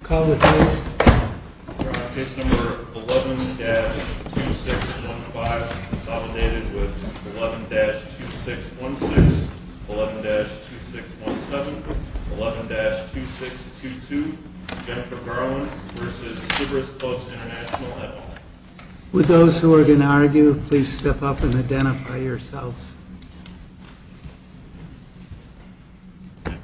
11-2615, 11-2617, 11-2622, Jennifer Garland v. Sybaris Clubs International With those who are going to argue, please step up and identify yourselves. Good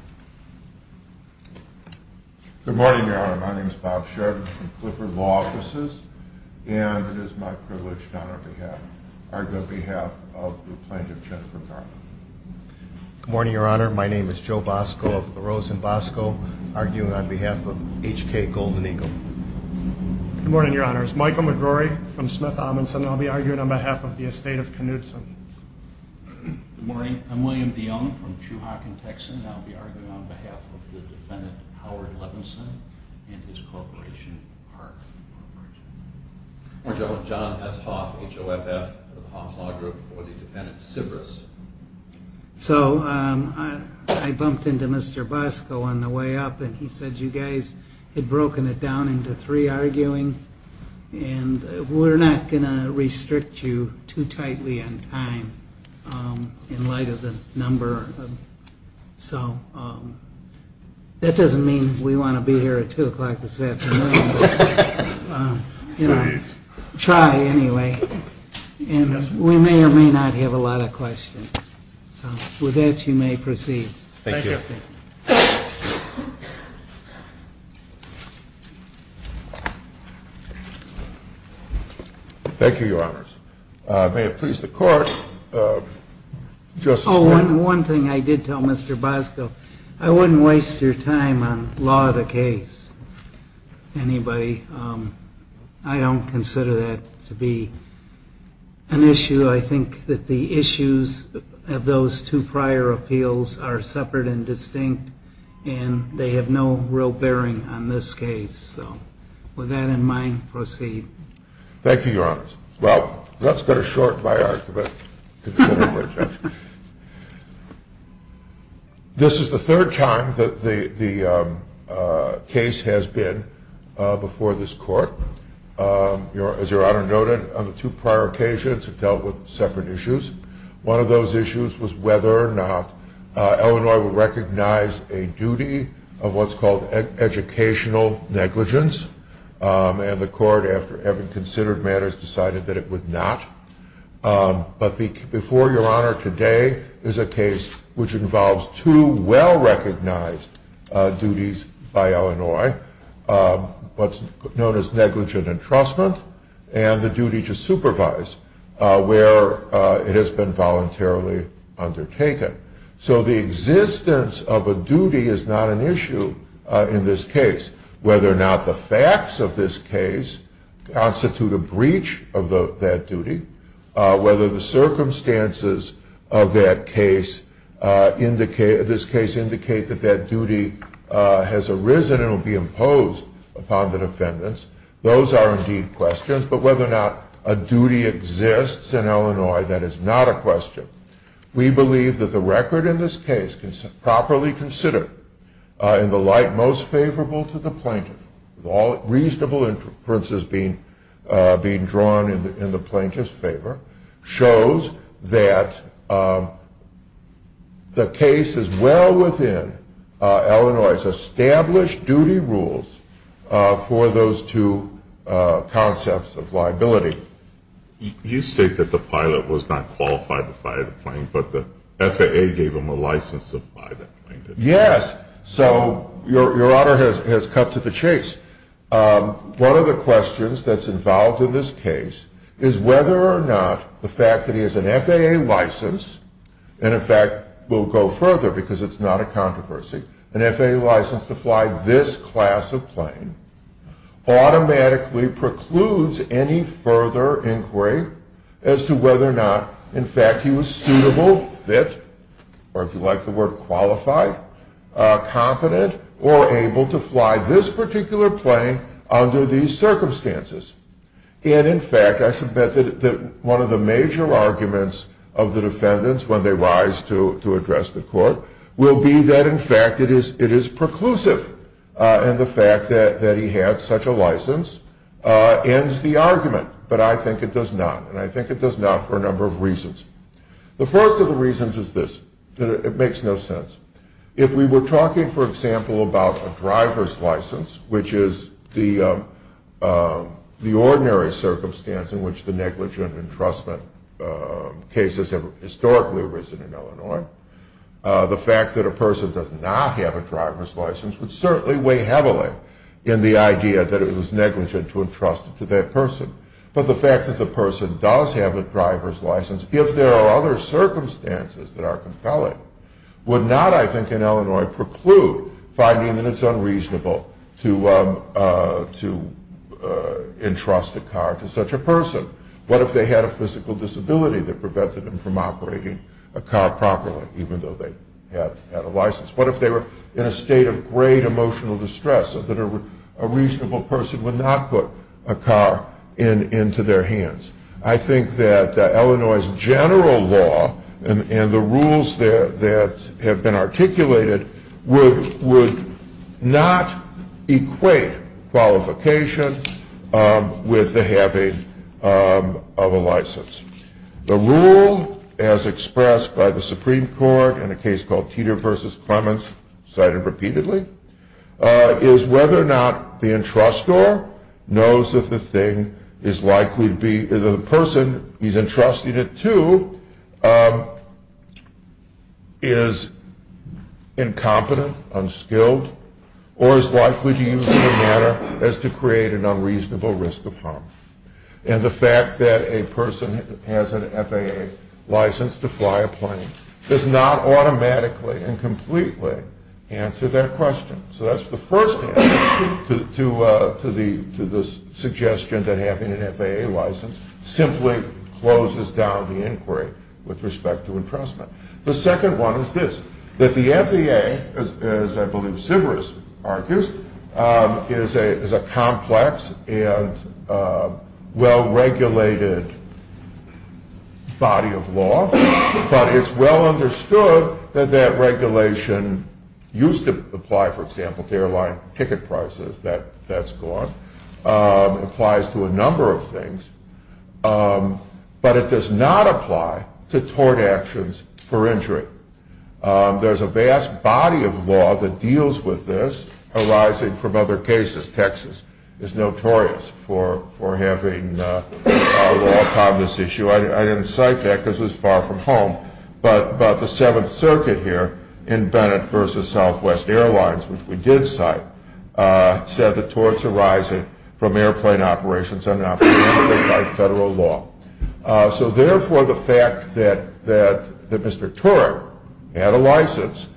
morning, Your Honor. My name is Bob Sheridan from Clifford Law Offices, and it is my privilege to argue on behalf of the plaintiff, Jennifer Garland. Good morning, Your Honor. My name is Joe Bosco of LaRosa and Bosco, arguing on behalf of H.K. Golden Eagle. Good morning, Your Honor. It's Michael McGrory from Smith-Adamson. I'll be arguing on behalf of the estate of Knutson. Good morning. I'm William Dionne from True Hawk in Texas, and I'll be arguing on behalf of the defendant, Howard Levinson, and his corporation, Park. Good morning, Your Honor. I'm John S. Hoff, H.O.F.F. of Hoff Law Group, for the defendant, Sybaris. So, I bumped into Mr. Bosco on the way up, and he said, you guys had broken it down into three arguing, and we're not going to restrict you too tightly on time, in light of the number. So, that doesn't mean we want to be here at 2 o'clock this afternoon, but try anyway, and we may or may not have a lot of questions. With that, you may proceed. Thank you, Your Honor. One thing I did tell Mr. Bosco, I wouldn't waste your time on law of the case, anybody. I don't consider that to be an issue. I think that the issues of those two prior appeals are separate and distinct, and they have no real bearing on this case. So, with that in mind, proceed. Thank you, Your Honor. Well, that's going to shorten my argument. This is the third time that the case has been before this court. As Your Honor noted, on the two prior occasions, it dealt with separate issues. One of those issues was whether or not Illinois would recognize a duty of what's called educational negligence, and the court, after having considered matters, decided that it would not. But before Your Honor, today is a case which involves two well-recognized duties by Illinois, what's known as negligent entrustment, and the duty to supervise, where it has been voluntarily undertaken. So the existence of a duty is not an issue in this case. Whether or not the facts of this case constitute a breach of that duty, whether the circumstances of this case indicate that that duty has arisen and will be imposed upon the defendants, those are indeed questions, but whether or not a duty exists in Illinois, that is not a question. We believe that the record in this case, properly considered, in the light most favorable to the plaintiff, with all reasonable inferences being drawn in the plaintiff's favor, shows that the case is well within Illinois's established duty rules for those two concepts of liability. You state that the pilot was not qualified to fly the plane, but the FAA gave him a license to fly the plane. Yes. So Your Honor has cut to the chase. One of the questions that's involved in this case is whether or not the fact that he has an FAA license, and in fact we'll go further because it's not a controversy, an FAA license to fly this class of plane, automatically precludes any further inquiry as to whether or not, in fact, he was suitable, fit, or if you like the word qualified, competent, or able to fly this particular plane under these circumstances. And in fact, I submit that one of the major arguments of the defendants when they rise to address the court will be that in fact it is preclusive, and the fact that he has such a license ends the argument. But I think it does not, and I think it does not for a number of reasons. The first of the reasons is this. It makes no sense. If we were talking, for example, about a driver's license, which is the ordinary circumstance in which the negligent entrustment cases have historically arisen in Illinois, the fact that a person does not have a driver's license would certainly weigh heavily in the idea that it was negligent to entrust it to that person. But the fact that the person does have a driver's license, if there are other circumstances that are compelling, would not, I think, in Illinois preclude finding that it's unreasonable to entrust a car to such a person. What if they had a physical disability that prevented them from operating a car properly, even though they had a license? What if they were in a state of great emotional distress so that a reasonable person would not put a car into their hands? I think that Illinois' general law and the rules that have been articulated would not equate qualification with the having of a license. The rule, as expressed by the Supreme Court in a case called Teeter v. Clements, cited repeatedly, is whether or not the entrustor knows that the person he's entrusted it to is incompetent, unskilled, or is likely to use it in a manner as to create an unreasonable risk of harm. And the fact that a person has an FAA license to fly a plane does not automatically and completely answer that question. So that's the first thing to the suggestion that having an FAA license simply closes down the inquiry with respect to entrustment. The second one is this, that the FAA, as I believe Silvers argues, is a complex and well-regulated body of law, but it's well understood that that regulation used to apply, for example, to airline ticket prices. That's gone. It applies to a number of things, but it does not apply to tort actions for injury. There's a vast body of law that deals with this arising from other cases. Texas is notorious for having a law on this issue. I didn't cite that because it's far from home, but the Seventh Circuit here in Bennett v. Southwest Airlines, which we did cite, said that torts arising from airplane operations are not protected by federal law. So therefore, the fact that Mr. Tort had a license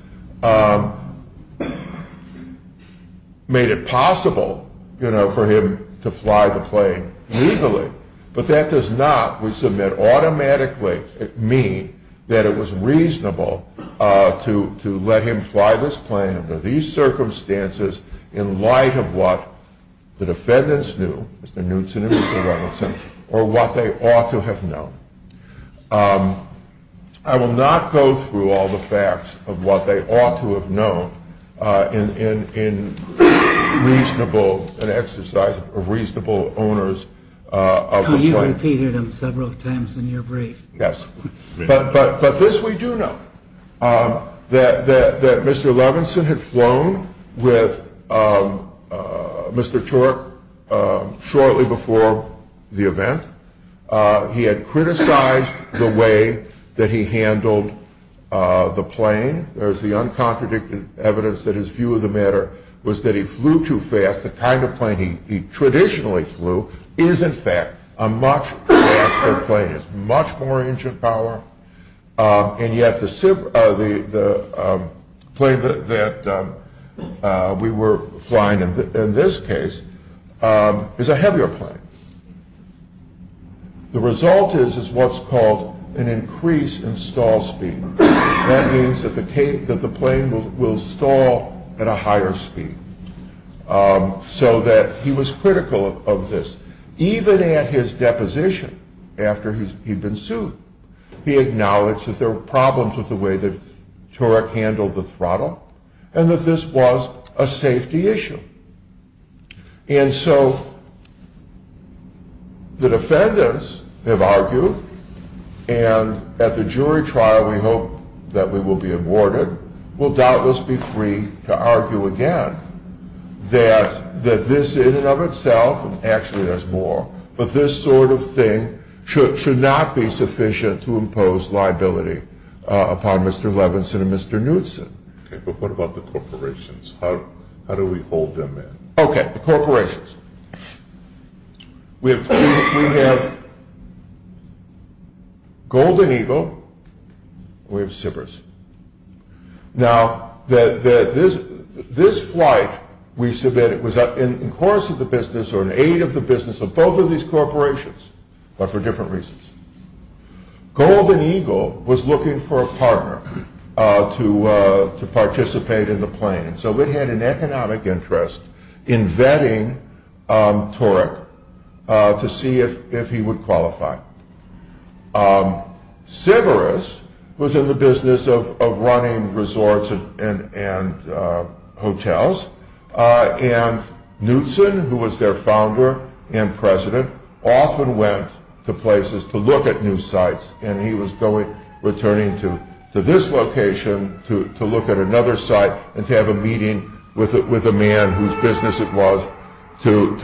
made it possible for him to fly the plane legally, but that does not, we submit, automatically mean that it was reasonable to let him fly this plane under these circumstances in light of what the defendants knew, Mr. Knutson and Mr. Robinson, or what they ought to have known. I will not go through all the facts of what they ought to have known in an exercise of reasonable owners of this plane. You've repeated them several times in your brief. Yes, but this we do know, that Mr. Levinson had flown with Mr. Tort shortly before the event. He had criticized the way that he handled the plane. There is the uncontradicted evidence that his view of the matter was that he flew too fast. The kind of plane he traditionally flew is, in fact, a much faster plane. It has much more engine power, and yet the plane that we were flying in this case is a heavier plane. The result is what's called an increase in stall speed. That means that the plane will stall at a higher speed. So that he was critical of this. Even at his deposition, after he'd been sued, he acknowledged that there were problems with the way that Turek handled the throttle, and that this was a safety issue. And so the defendants have argued, and at the jury trial we hope that we will be awarded, will doubtless be free to argue again that this in and of itself, actually there's more, but this sort of thing should not be sufficient to impose liability upon Mr. Levinson and Mr. Knudsen. Okay, but what about the corporations? How do we hold them in? Okay, the corporations. We have Golden Eagle, and we have Sybris. Now, this flight, we said that it was in course of the business or an aid of the business of both of these corporations, but for different reasons. Golden Eagle was looking for a partner to participate in the plane, so they had an economic interest in vetting Turek to see if he would qualify. Sybris was in the business of running resorts and hotels, and Knudsen, who was their founder and president, often went to places to look at new sites, and he was returning to this location to look at another site, and to have a meeting with a man whose business it was to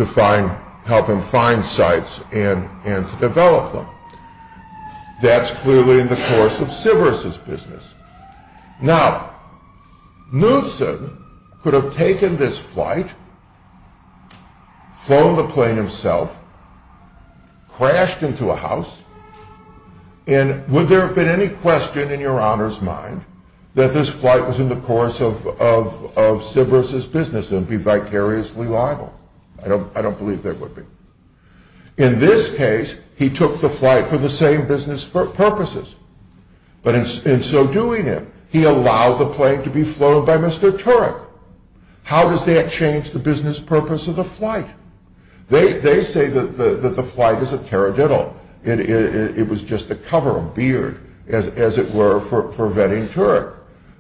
help him find sites and to develop them. That's clearly in the course of Sybris' business. Now, Knudsen could have taken this flight, flown the plane himself, crashed into a house, and would there have been any question in your honor's mind that this flight was in the course of Sybris' business and would be vicariously liable? I don't believe there would be. In this case, he took the flight for the same business purposes. But in so doing, he allowed the plane to be flown by Mr. Turek. How does that change the business purpose of the flight? They say that the flight is a terra gentile. It was just a cover, a beard, as it were, for vetting Turek.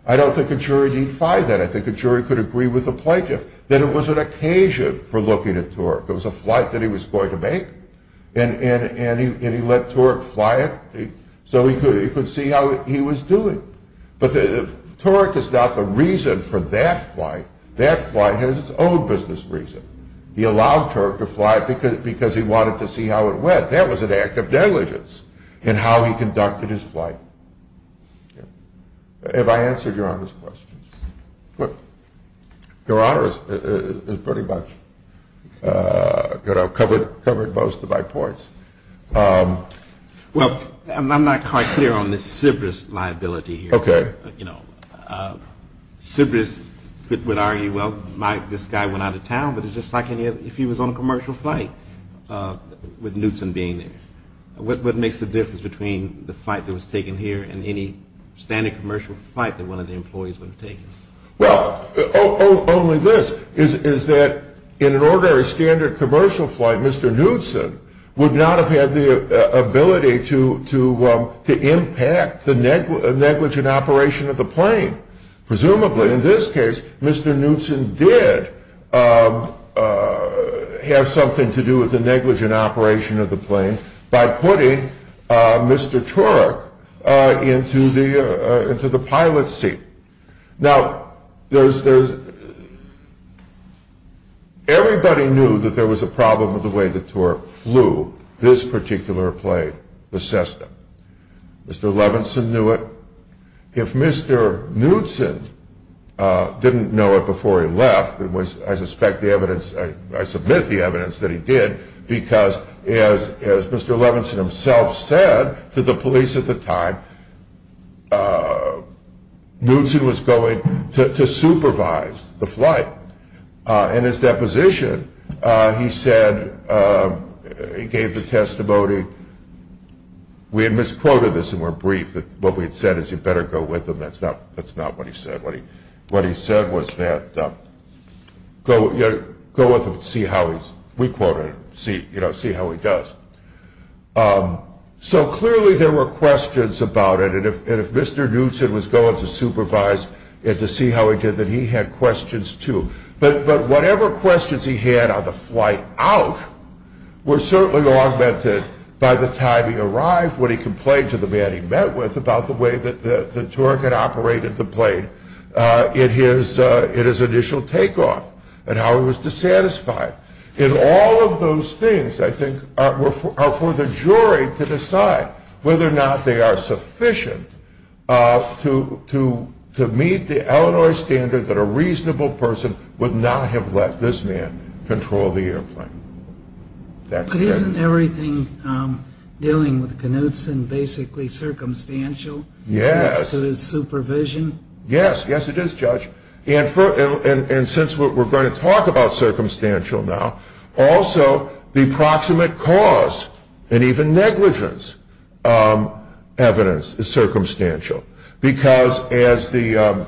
I don't think a jury defied that. I think a jury could agree with the plaintiff that it was an occasion for looking at Turek. It was a flight that he was going to make, and he let Turek fly it so he could see how he was doing. But Turek is not the reason for that flight. That flight has its own business reason. He allowed Turek to fly it because he wanted to see how it went. That was an act of diligence in how he conducted his flight. Have I answered your honors' questions? Well, your honors has pretty much covered most of my points. Well, I'm not quite clear on this Sybris liability here. Okay. Sybris would argue, well, this guy went out of town, but it's just like if he was on a commercial flight with Newsom being there. What makes the difference between the flight that was taken here and any standard commercial flight that one of the employees would have taken? Well, only this, is that in an ordinary standard commercial flight, Mr. Newsom would not have had the ability to impact the negligent operation of the plane. Presumably, in this case, Mr. Newsom did have something to do with the negligent operation of the plane by putting Mr. Turek into the pilot seat. Now, everybody knew that there was a problem with the way that Turek flew this particular plane, the Cessna. Mr. Levinson knew it. If Mr. Newsom didn't know it before he left, I submit the evidence that he did because, as Mr. Levinson himself said to the police at the time, Newsom was going to supervise the flight. In his deposition, he said, he gave the testimony, we had misquoted this and were brief, but what we had said is you better go with him. That's not what he said. What he said was that go with him and see how he does. So clearly there were questions about it, and if Mr. Newsom was going to supervise and to see how he did, then he had questions too. But whatever questions he had on the flight out were certainly augmented by the time he arrived when he complained to the man he met with about the way that Turek had operated the plane in his initial takeoff and how he was dissatisfied. And all of those things, I think, are for the jury to decide whether or not they are sufficient to meet the Illinois standard that a reasonable person would not have let this man control the airplane. But isn't everything dealing with Knutson basically circumstantial? Yes. To his supervision? Yes, yes it is, Judge. And since we're going to talk about circumstantial now, also the approximate cause and even negligence evidence is circumstantial. Because as the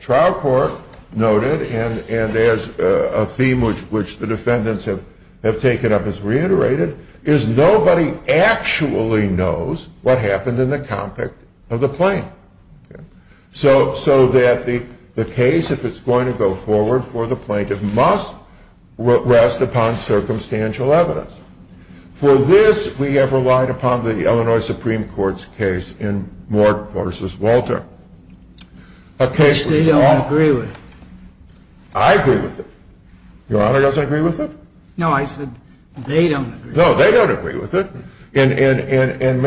trial court noted, and there's a theme which the defendants have taken up as reiterated, is nobody actually knows what happened in the cockpit of the plane. So that the case, if it's going to go forward for the plaintiff, must rest upon circumstantial evidence. For this, we have relied upon the Illinois Supreme Court's case in Moore v. Walter. A case that's not... Which they don't agree with. I agree with it. Your Honor doesn't agree with it? No, I said they don't agree with it. No, they don't agree with it. And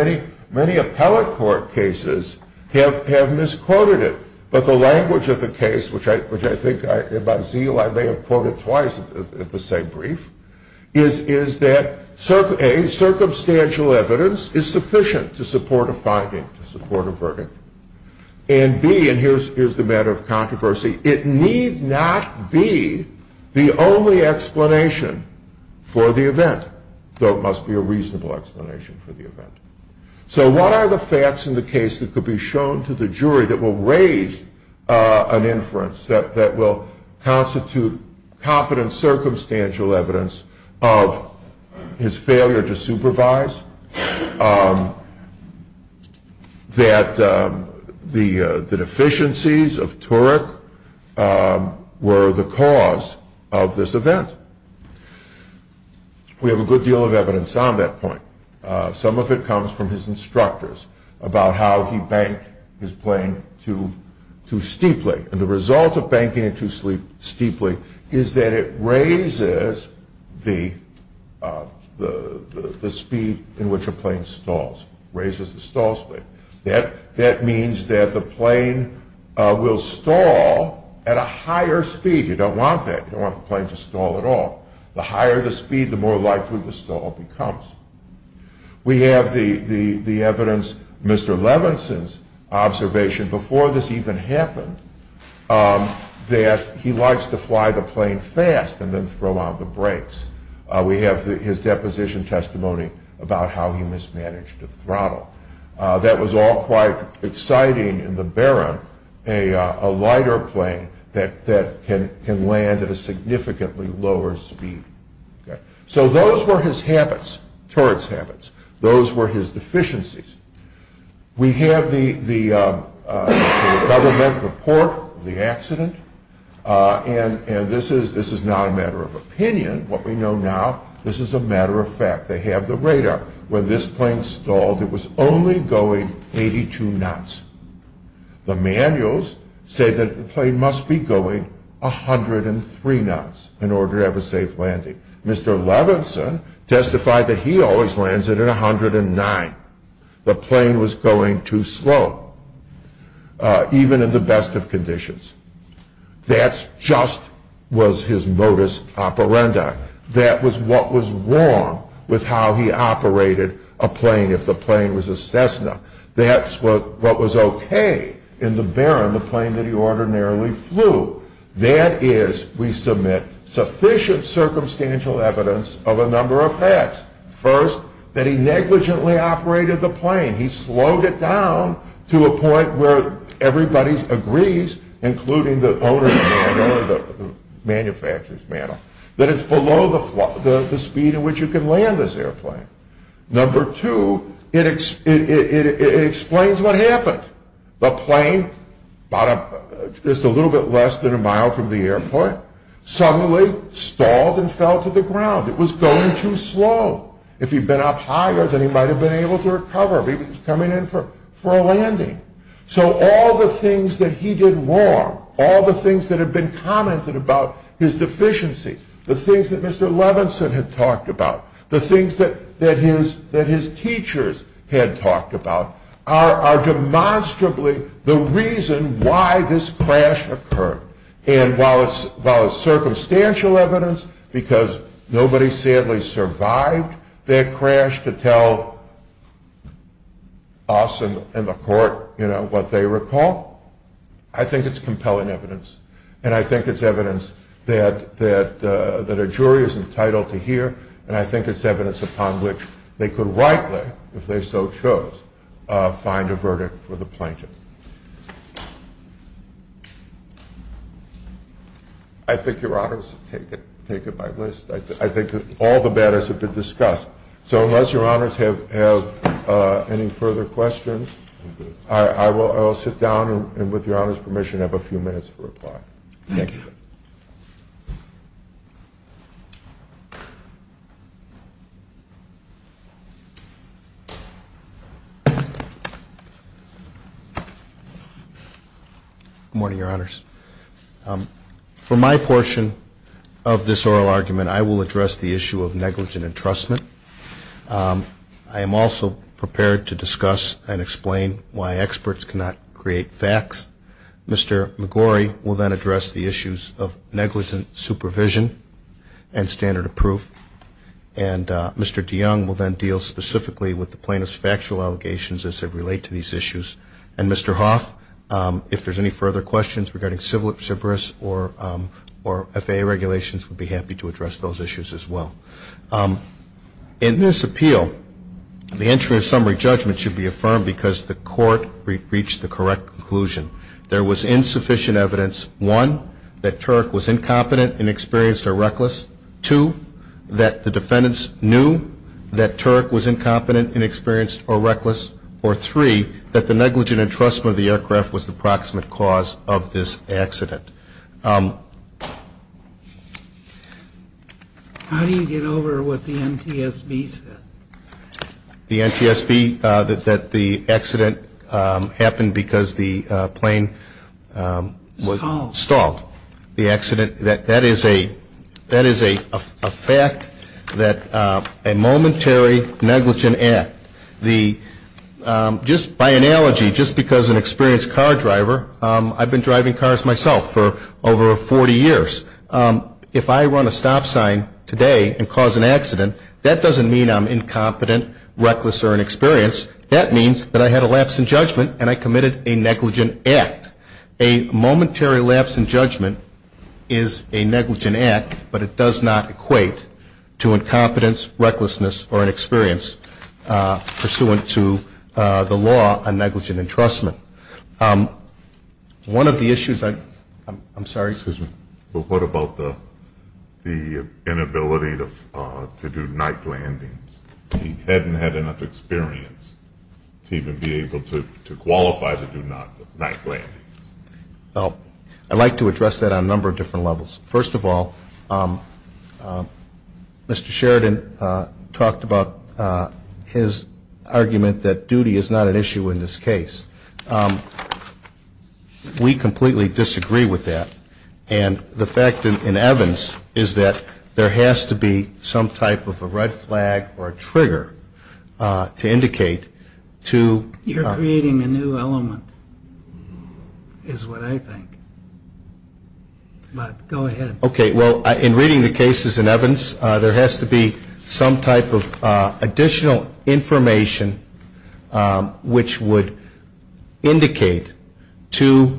many appellate court cases have misquoted it. But the language of the case, which I think by zeal I may have quoted twice at the same brief, is that A, circumstantial evidence is sufficient to support a finding, to support a verdict. And B, and here's the matter of controversy, it need not be the only explanation for the event, though it must be a reasonable explanation for the event. So what are the facts in the case that could be shown to the jury that will raise an inference, that will constitute confident circumstantial evidence of his failure to supervise, that the deficiencies of Turek were the cause of this event? We have a good deal of evidence on that point. Some of it comes from his instructors about how he banked his claim too steeply. And the result of banking it too steeply is that it raises the speed in which a plane stalls, raises the stall speed. That means that the plane will stall at a higher speed. You don't want that. You don't want the plane to stall at all. The higher the speed, the more likely the stall becomes. We have the evidence, Mr. Levinson's observation before this even happened, that he likes to fly the plane fast and then throw out the brakes. We have his deposition testimony about how he mismanaged the throttle. That was all quite exciting in the Baron, a lighter plane that can land at a significantly lower speed. So those were his habits, Turek's habits. Those were his deficiencies. We have the government report of the accident. And this is not a matter of opinion, what we know now. This is a matter of fact. They have the radar. When this plane stalled, it was only going 82 knots. The manuals say that the plane must be going 103 knots in order to have a safe landing. Mr. Levinson testified that he always lands it at 109. The plane was going too slow, even in the best of conditions. That just was his modus operandi. That was what was wrong with how he operated a plane if the plane was a Cessna. That's what was okay in the Baron, the plane that he ordinarily flew. That is, we submit sufficient circumstantial evidence of a number of facts. First, that he negligently operated the plane. He slowed it down to a point where everybody agrees, including the owners and the manufacturers, that it's below the speed at which you can land this airplane. Number two, it explains what happened. The plane, just a little bit less than a mile from the airport, suddenly stalled and fell to the ground. It was going too slow. If he'd been up higher, then he might have been able to recover. He was coming in for a landing. So all the things that he did wrong, all the things that have been commented about his deficiency, the things that Mr. Levinson had talked about, the things that his teachers had talked about, are demonstrably the reason why this crash occurred. And while it's circumstantial evidence, because nobody sadly survived that crash, to tell us and the court what they recall, I think it's compelling evidence. And I think it's evidence that a jury is entitled to hear, and I think it's evidence upon which they could rightly, if they so chose, find a verdict for the plaintiff. I think Your Honors have taken my list. I think all the matters have been discussed. So unless Your Honors have any further questions, I will sit down and, with Your Honors' permission, have a few minutes to reply. Thank you. Good morning, Your Honors. For my portion of this oral argument, I will address the issue of negligent entrustment. I am also prepared to discuss and explain why experts cannot create facts. Mr. McGorry will then address the issues of negligent supervision and standard of proof. And Mr. DeYoung will then deal specifically with the plaintiff's factual allegations as they relate to these issues. And Mr. Hoff, if there's any further questions regarding civil service or FAA regulations, we'll be happy to address those issues as well. In this appeal, the entry of summary judgment should be affirmed because the court reached the correct conclusion. There was insufficient evidence, one, that Turek was incompetent, inexperienced, or reckless, two, that the defendants knew that Turek was incompetent, inexperienced, or reckless, or three, that the negligent entrustment of the aircraft was the proximate cause of this accident. How do you get over what the NTSB said? The NTSB, that the accident happened because the plane was stalled. That is a fact, a momentary negligent act. By analogy, just because an experienced car driver, I've been driving cars myself for over 40 years. If I run a stop sign today and cause an accident, that doesn't mean I'm incompetent, reckless, or inexperienced. That means that I had a lapse in judgment and I committed a negligent act. A momentary lapse in judgment is a negligent act, but it does not equate to incompetence, recklessness, or inexperience pursuant to the law on negligent entrustment. One of the issues, I'm sorry, Susan. Well, what about the inability to do night landings? He hadn't had enough experience to even be able to qualify to do night landings. Well, I'd like to address that on a number of different levels. First of all, Mr. Sheridan talked about his argument that duty is not an issue in this case. We completely disagree with that. And the fact in Evans is that there has to be some type of a red flag or a trigger to indicate to- You're creating a new element, is what I think. But go ahead. Okay, well, in reading the cases in Evans, there has to be some type of additional information which would indicate to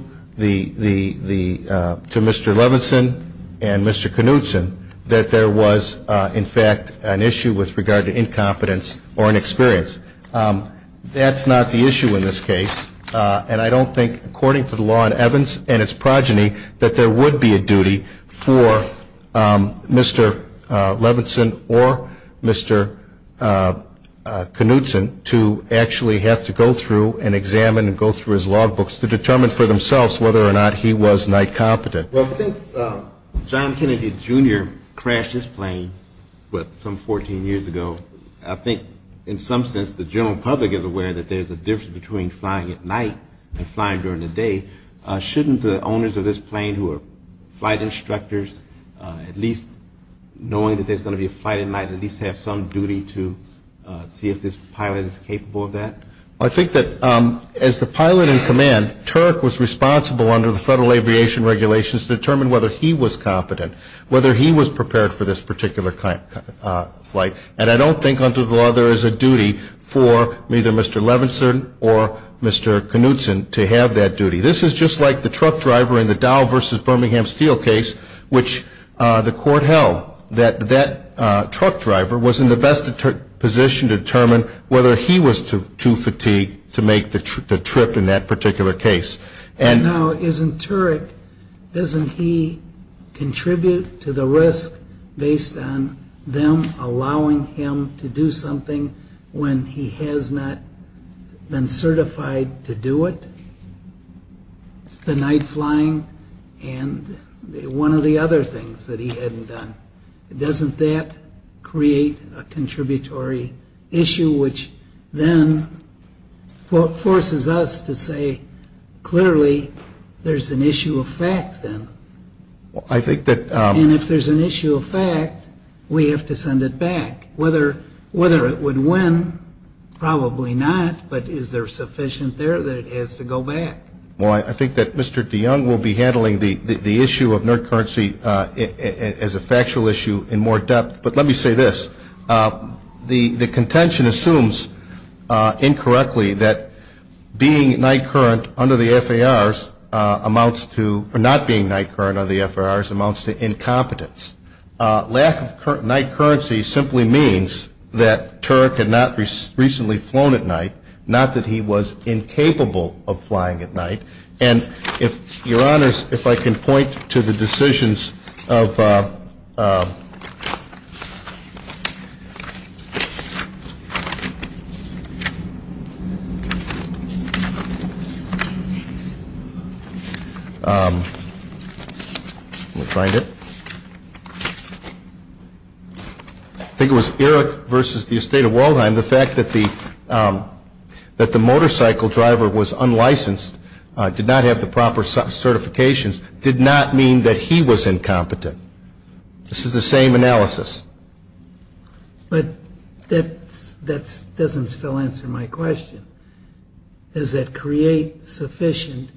Mr. Levinson and Mr. Knudson that there was, in fact, an issue with regard to incompetence or inexperience. That's not the issue in this case. And I don't think, according to the law in Evans and its progeny, that there would be a duty for Mr. Levinson or Mr. Knudson to actually have to go through and examine and go through his logbooks to determine for themselves whether or not he was night competent. Well, since John Kennedy Jr. crashed this plane some 14 years ago, I think in some sense the general public is aware that there's a difference between flying at night and flying during the day. Shouldn't the owners of this plane, who are flight instructors, at least knowing that there's going to be a flight at night at least have some duty to see if this pilot is capable of that? I think that as the pilot in command, Turok was responsible under the Federal Aviation Regulations to determine whether he was competent, whether he was prepared for this particular flight. And I don't think, under the law, there is a duty for either Mr. Levinson or Mr. Knudson to have that duty. This is just like the truck driver in the Dow v. Birmingham Steel case, which the court held. That truck driver was in the best position to determine whether he was too fatigued to make the trip in that particular case. Now, isn't Turok, doesn't he contribute to the risk based on them allowing him to do something when he has not been certified to do it? The night flying and one of the other things that he hadn't done. Doesn't that create a contributory issue, which then forces us to say, clearly, there's an issue of fact then. And if there's an issue of fact, we have to send it back. Whether it would win, probably not, but is there sufficient there that it has to go back? Well, I think that Mr. DeYoung will be handling the issue of night currency as a factual issue in more depth. But let me say this. The contention assumes, incorrectly, that being night current under the FAR amounts to, or not being night current under the FAR amounts to incompetence. Lack of night currency simply means that Turok had not recently flown at night, not that he was incapable of flying at night. And if your honors, if I can point to the decisions of, I think it was Eric versus the estate of Waldheim, the fact that the motorcycle driver was unlicensed, did not have the proper certifications, did not mean that he was incompetent. This is the same analysis. But that doesn't still answer my question. Does that create sufficient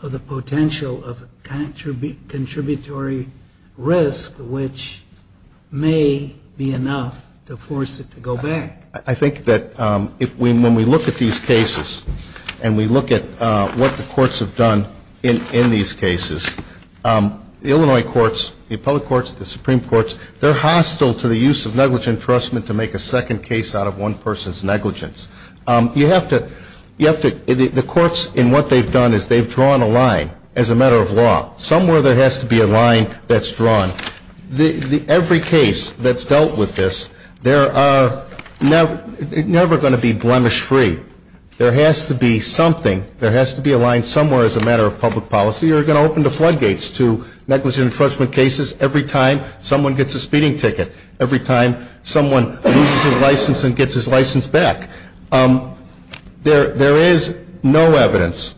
of the potential of a contributory risk, which may be enough to force it to go back? I think that when we look at these cases and we look at what the courts have done in these cases, the Illinois courts, the public courts, the Supreme Courts, they're hostile to the use of negligent entrustment to make a second case out of one person's negligence. The courts, in what they've done, is they've drawn a line as a matter of law. Every case that's dealt with this, they're never going to be blemish free. There has to be something, there has to be a line somewhere as a matter of public policy, or you're going to open the floodgates to negligent entrustment cases every time someone gets a speeding ticket, every time someone loses his license and gets his license back. There is no evidence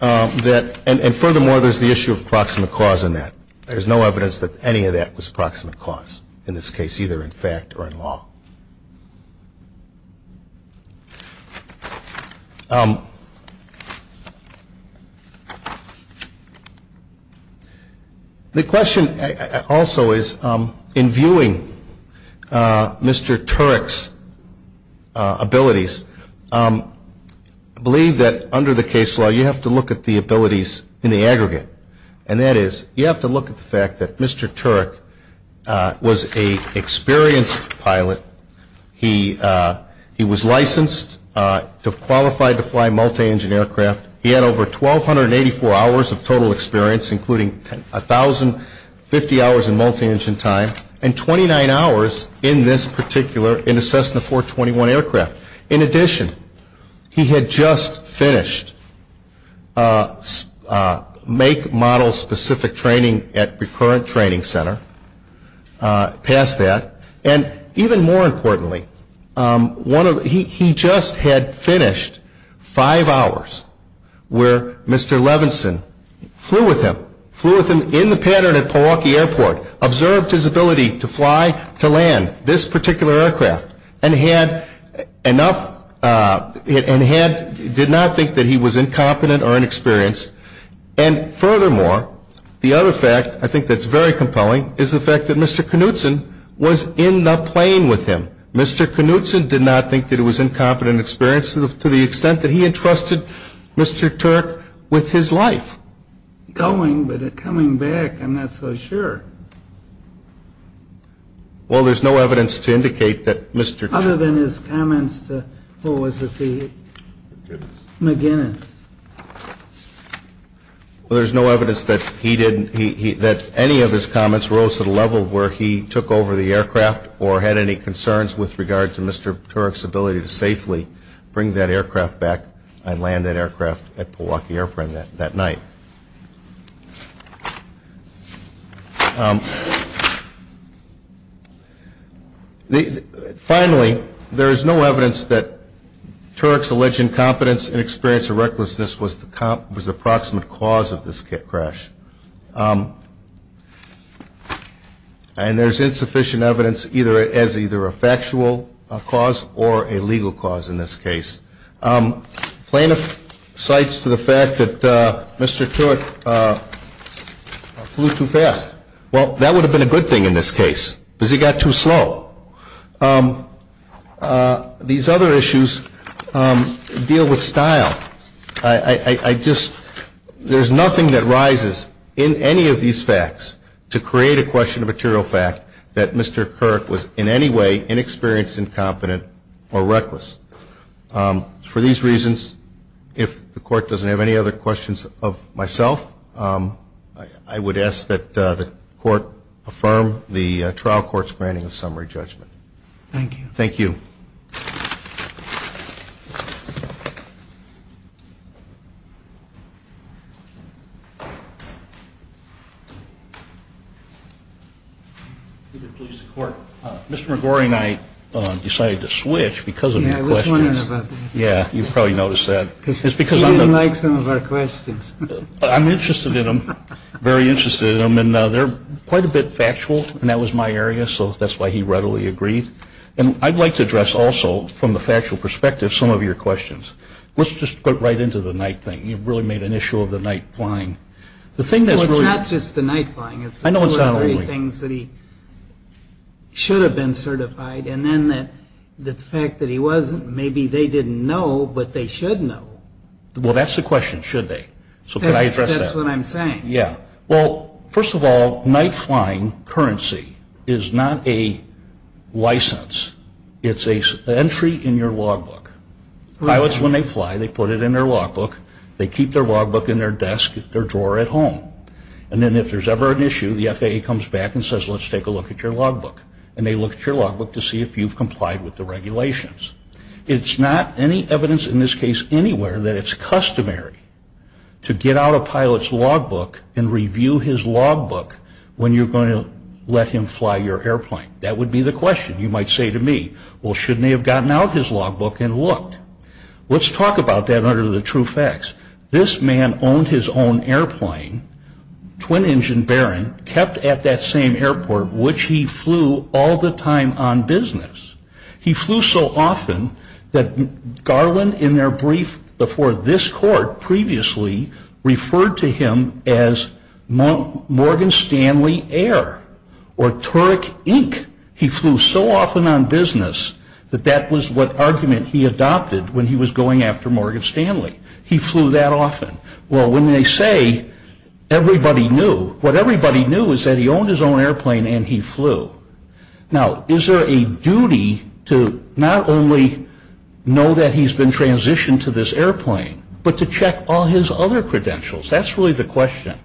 that, and furthermore, there's the issue of proximate cause in that. There's no evidence that any of that was proximate cause in this case, either in fact or in law. The question also is, in viewing Mr. Turek's abilities, I believe that under the case law you have to look at the abilities in the aggregate, and that is you have to look at the fact that Mr. Turek was an experienced pilot. He was licensed to qualify to fly multi-engine aircraft. He had over 1,284 hours of total experience, including 1,050 hours of multi-engine time, and 29 hours in this particular, in the Cessna 421 aircraft. In addition, he had just finished make model specific training at Recurrent Training Center, past that, and even more importantly, he just had finished five hours where Mr. Levinson flew with him, flew with him in the pattern at Milwaukee Airport, observed his ability to fly, to land this particular aircraft, and did not think that he was incompetent or inexperienced. And furthermore, the other fact, I think that's very compelling, is the fact that Mr. Knutson was in the plane with him. Mr. Knutson did not think that he was incompetent or inexperienced to the extent that he entrusted Mr. Turek with his life. Going, but coming back, I'm not so sure. Well, there's no evidence to indicate that Mr. Turek... Other than his comments to, what was it, to McGinnis. Well, there's no evidence that he didn't, that any of his comments rose to the level where he took over the aircraft or had any concerns with regard to Mr. Turek's ability to safely bring that aircraft back and land that aircraft at Milwaukee Airport that night. Finally, there is no evidence that Turek's alleged incompetence, inexperience, or recklessness was the approximate cause of this crash. And there's insufficient evidence as either a factual cause or a legal cause in this case. Plaintiff cites to the fact that Mr. Turek flew too fast. Well, that would have been a good thing in this case, because he got too slow. These other issues deal with style. I just, there's nothing that rises in any of these facts to create a question of material fact that Mr. Turek was in any way inexperienced, incompetent, or reckless. For these reasons, if the court doesn't have any other questions of myself, I would ask that the court affirm the trial court's branding of summary judgment. Thank you. Thank you. Mr. McGorry and I decided to switch because of your questions. Yeah, you probably noticed that. He didn't like some of our questions. I'm interested in them, very interested in them, and they're quite a bit factual. And that was my area, so that's why he readily agreed. And I'd like to address also, from the factual perspective, some of your questions. Let's just go right into the night thing. You've really made an issue of the night flying. It's not just the night flying. I know it's not only. There were three things that he should have been certified, and then the fact that he wasn't, maybe they didn't know, but they should know. Well, that's the question, should they? So can I address that? That's what I'm saying. Yeah. Well, first of all, night flying currency is not a license. It's an entry in your logbook. Pilots, when they fly, they put it in their logbook. They keep their logbook in their desk, their drawer at home. And then if there's ever an issue, the FAA comes back and says, let's take a look at your logbook. And they look at your logbook to see if you've complied with the regulations. It's not any evidence in this case anywhere that it's customary to get out a pilot's logbook and review his logbook when you're going to let him fly your airplane. That would be the question. You might say to me, well, shouldn't he have gotten out his logbook and looked? Let's talk about that under the true facts. This man owned his own airplane, twin-engine Baron, kept at that same airport, which he flew all the time on business. He flew so often that Garland, in their brief before this court previously, referred to him as Morgan Stanley Air or Turek Inc. He flew so often on business that that was what argument he adopted when he was going after Morgan Stanley. He flew that often. Well, when they say everybody knew, what everybody knew is that he owned his own airplane and he flew. Now, is there a duty to not only know that he's been transitioned to this airplane, but to check all his other credentials? That's really the question.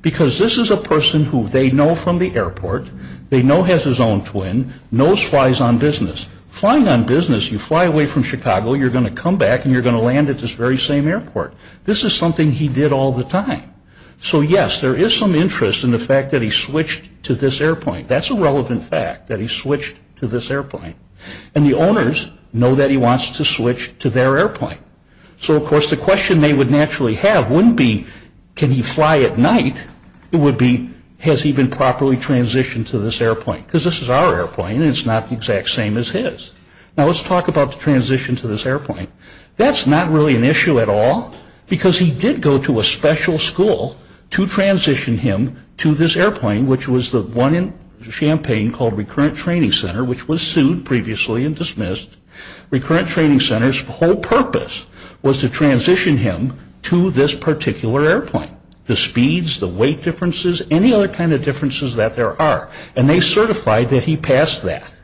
Because this is a person who they know from the airport, they know has his own twin, knows flies on business. Flying on business, you fly away from Chicago, you're going to come back and you're going to land at this very same airport. This is something he did all the time. So, yes, there is some interest in the fact that he switched to this airplane. That's a relevant fact, that he switched to this airplane. And the owners know that he wants to switch to their airplane. So, of course, the question they would naturally have wouldn't be, can he fly at night? It would be, has he been properly transitioned to this airplane? Because this is our airplane and it's not the exact same as his. Now, let's talk about the transition to this airplane. That's not really an issue at all, because he did go to a special school to transition him to this airplane, which was the one in Champaign called Recurrent Training Center, which was sued previously and dismissed. Recurrent Training Center's whole purpose was to transition him to this particular airplane. The speeds, the weight differences, any other kind of differences that there are. And they certified that he passed that.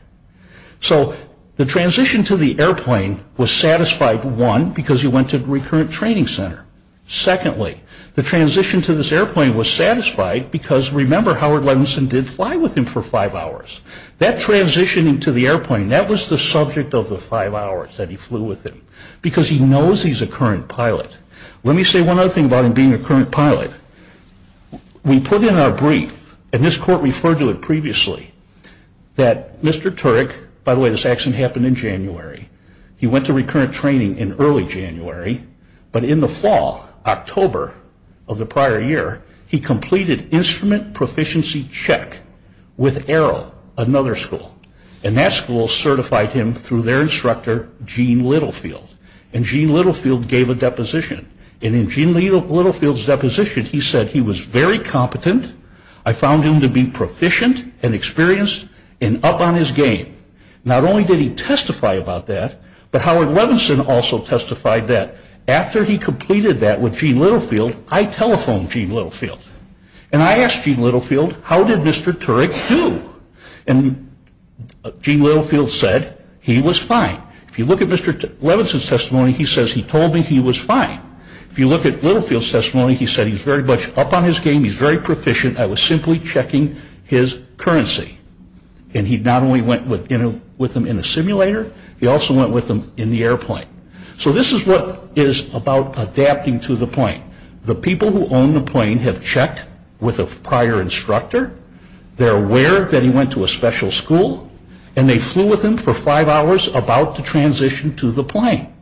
So, the transition to the airplane was satisfied, one, because he went to Recurrent Training Center. Secondly, the transition to this airplane was satisfied because, remember, Howard Levinson did fly with him for five hours. That transitioning to the airplane, that was the subject of the five hours that he flew with him, because he knows he's a current pilot. Let me say one other thing about him being a current pilot. We put in our brief, and this court referred to it previously, that Mr. Turek, by the way, this actually happened in January, he went to Recurrent Training in early January, but in the fall, October of the prior year, he completed instrument proficiency check with Arrow, another school. And that school certified him through their instructor, Gene Littlefield. And Gene Littlefield gave a deposition. And in Gene Littlefield's deposition, he said, he was very competent, I found him to be proficient and experienced, and up on his game. Not only did he testify about that, but Howard Levinson also testified that. After he completed that with Gene Littlefield, I telephoned Gene Littlefield. And I asked Gene Littlefield, how did Mr. Turek do? And Gene Littlefield said, he was fine. If you look at Mr. Levinson's testimony, he says he told me he was fine. If you look at Littlefield's testimony, he said he's very much up on his game, he's very proficient, I was simply checking his currency. And he not only went with him in the simulator, he also went with him in the airplane. So this is what is about adapting to the plane. The people who own the plane have checked with a prior instructor. They're aware that he went to a special school. And they flew with him for five hours about the transition to the plane.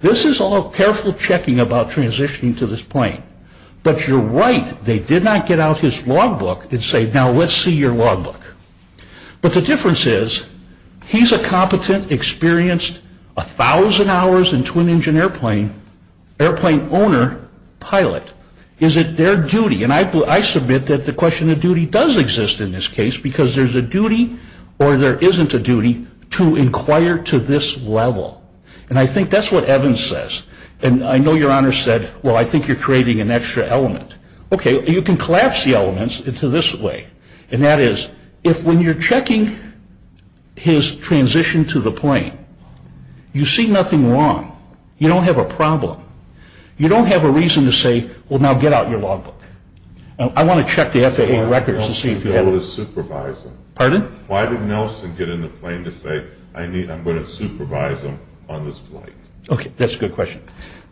This is all careful checking about transitioning to this plane. But you're right, they did not get out his logbook and say, now let's see your logbook. But the difference is, he's a competent, experienced, 1,000 hours in twin engine airplane, airplane owner, pilot. Is it their duty? And I submit that the question of duty does exist in this case, because there's a duty or there isn't a duty to inquire to this level. And I think that's what Evans says. And I know your Honor said, well, I think you're creating an extra element. Okay, you can collapse the elements into this way. And that is, when you're checking his transition to the plane, you see nothing wrong. You don't have a problem. You don't have a reason to say, well, now get out your logbook. I want to check the FAA records and see if you have them. Pardon? Why did Nelson get in the plane to say, I'm going to supervise him on this flight? Okay, that's a good question.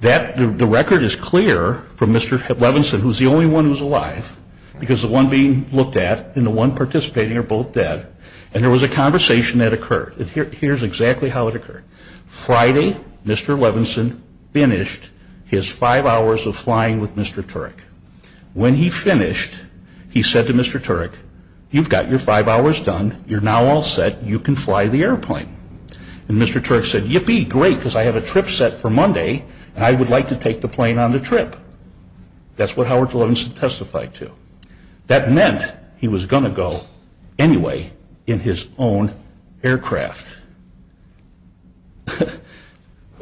The record is clear from Mr. Levenson, who's the only one who's alive, because the one being looked at and the one participating are both dead. And there was a conversation that occurred. Here's exactly how it occurred. Friday, Mr. Levenson finished his five hours of flying with Mr. Turek. When he finished, he said to Mr. Turek, you've got your five hours done. You're now all set. You can fly the airplane. And Mr. Turek said, yippee, great, because I have a trip set for Monday, and I would like to take the plane on the trip. That's what Howard Levenson testified to. That meant he was going to go anyway in his own aircraft.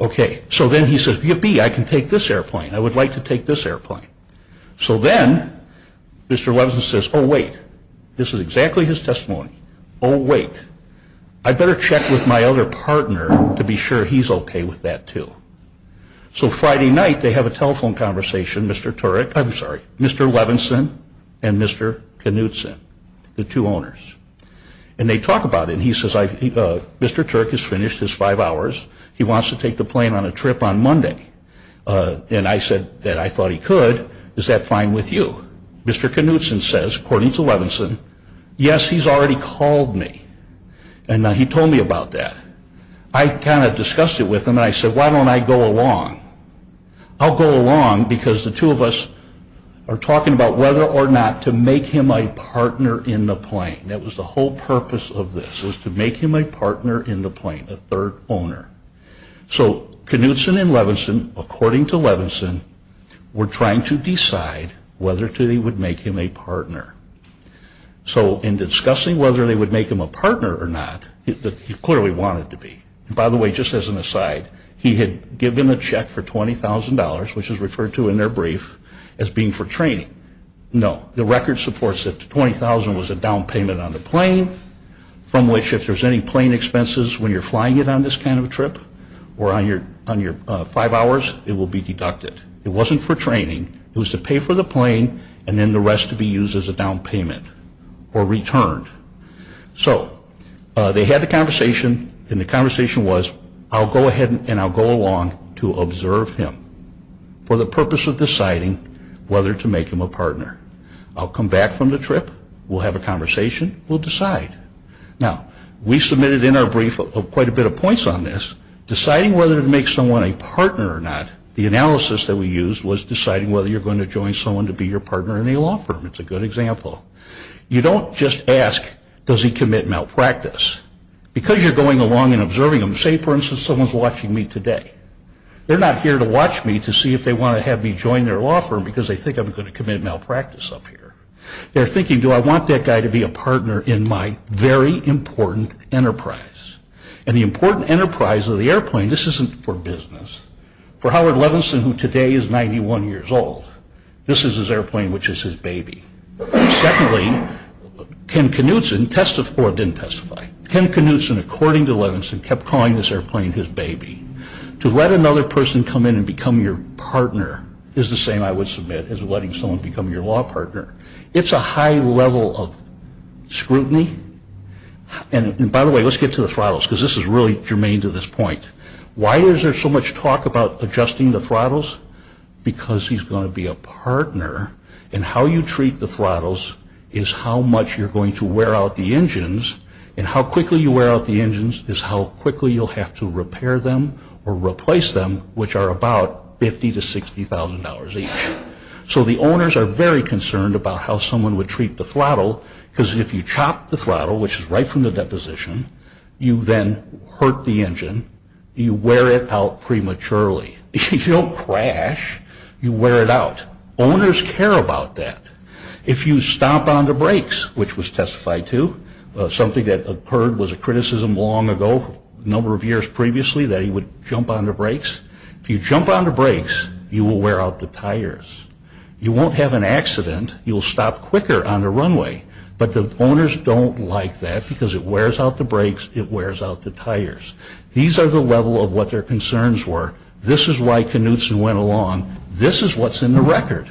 Okay, so then he says, yippee, I can take this airplane. I would like to take this airplane. So then Mr. Levenson says, oh, wait. This is exactly his testimony. Oh, wait. I'd better check with my other partner to be sure he's okay with that, too. So Friday night they have a telephone conversation, Mr. Turek. I'm sorry, Mr. Levenson and Mr. Knudsen, the two owners. And they talk about it, and he says, Mr. Turek has finished his five hours. He wants to take the plane on a trip on Monday. And I said that I thought he could. Is that fine with you? Mr. Knudsen says, according to Levenson, yes, he's already called me, and he told me about that. I kind of discussed it with him, and I said, why don't I go along? I'll go along because the two of us are talking about whether or not to make him a partner in the plane. That was the whole purpose of this, was to make him a partner in the plane, the third owner. So Knudsen and Levenson, according to Levenson, were trying to decide whether or not they would make him a partner. So in discussing whether they would make him a partner or not, he clearly wanted to be. By the way, just as an aside, he had given them a check for $20,000, which is referred to in their brief as being for training. No, the record supports that $20,000 was a down payment on the plane, from which if there's any plane expenses when you're flying it on this kind of a trip, or on your five hours, it will be deducted. It wasn't for training. It was to pay for the plane, and then the rest would be used as a down payment or returned. So they had the conversation, and the conversation was, I'll go ahead and I'll go along to observe him for the purpose of deciding whether to make him a partner. I'll come back from the trip. We'll have a conversation. We'll decide. Now, we submitted in our brief quite a bit of points on this, deciding whether to make someone a partner or not. The analysis that we used was deciding whether you're going to join someone to be your partner in a law firm. It's a good example. You don't just ask, does he commit malpractice? Because you're going along and observing him, say, for instance, someone's watching me today. They're not here to watch me to see if they want to have me join their law firm because they think I'm going to commit malpractice up here. They're thinking, do I want that guy to be a partner in my very important enterprise? And the important enterprise of the airplane, this isn't for business. For Howard Levenson, who today is 91 years old, this is his airplane, which is his baby. Secondly, Ken Knudsen testified, didn't testify. Ken Knudsen, according to Levenson, kept calling this airplane his baby. To let another person come in and become your partner is the same, I would submit, as letting someone become your law partner. It's a high level of scrutiny. And by the way, let's get to the throttles, because this is really germane to this point. Why is there so much talk about adjusting the throttles? Because he's going to be a partner, and how you treat the throttles is how much you're going to wear out the engines, and how quickly you wear out the engines is how quickly you'll have to repair them or replace them, which are about $50,000 to $60,000 each. Because if you chop the throttle, which is right from the deposition, you then hurt the engine, you wear it out prematurely. If you don't crash, you wear it out. Owners care about that. If you stomp on the brakes, which was testified to, something that occurred was a criticism long ago, a number of years previously, that he would jump on the brakes. If you jump on the brakes, you will wear out the tires. You won't have an accident. You'll stop quicker on the runway, but the owners don't like that because it wears out the brakes, it wears out the tires. These are the level of what their concerns were. This is why Knutson went along. This is what's in the record.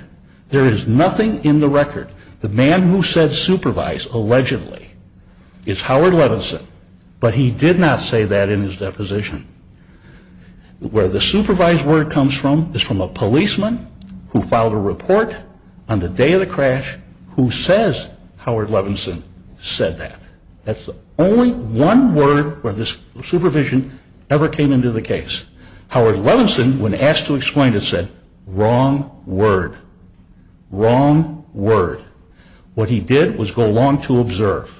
There is nothing in the record. The man who said supervise, allegedly, is Howard Levinson, but he did not say that in his deposition. Where the supervise word comes from is from a policeman who filed a report on the day of the crash who says Howard Levinson said that. That's the only one word where this supervision ever came into the case. Howard Levinson, when asked to explain it, said, wrong word, wrong word. What he did was go along to observe.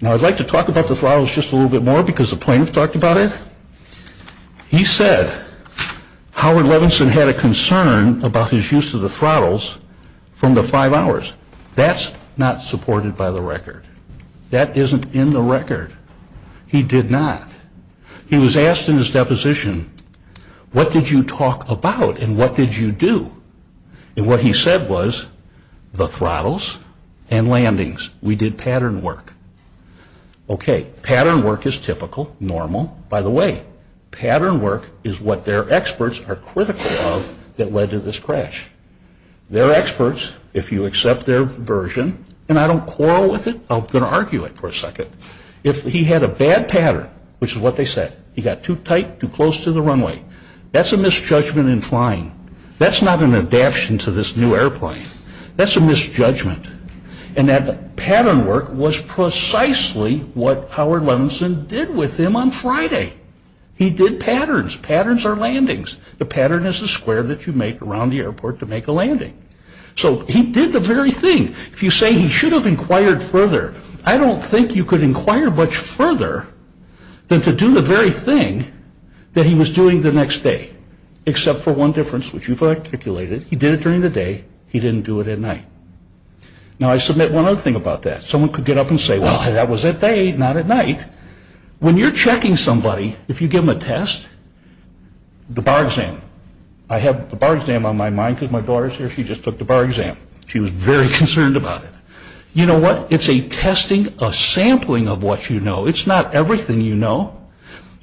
Now, I'd like to talk about the throttles just a little bit more because the plaintiff talked about it. He said Howard Levinson had a concern about his use of the throttles from the five hours. That's not supported by the record. That isn't in the record. He did not. He was asked in his deposition, what did you talk about and what did you do? And what he said was the throttles and landings. We did pattern work. Okay, pattern work is typical, normal. By the way, pattern work is what their experts are critical of that led to this crash. Their experts, if you accept their version, and I don't quarrel with it, I'm going to argue it for a second. If he had a bad pattern, which is what they said, he got too tight, too close to the runway, that's a misjudgment in flying. That's not an adaption to this new airplane. That's a misjudgment. And that pattern work was precisely what Howard Levinson did with him on Friday. He did patterns. Patterns are landings. The pattern is the square that you make around the airport to make a landing. So he did the very thing. If you say he should have inquired further, I don't think you could inquire much further than to do the very thing that he was doing the next day, except for one difference, which you've articulated. He did it during the day. He didn't do it at night. Now, I submit one other thing about that. Someone could get up and say, well, that was at day, not at night. When you're checking somebody, if you give them a test, the bar exam. I have the bar exam on my mind because my daughter's here. She just took the bar exam. She was very concerned about it. You know what? It's a testing, a sampling of what you know. It's not everything you know.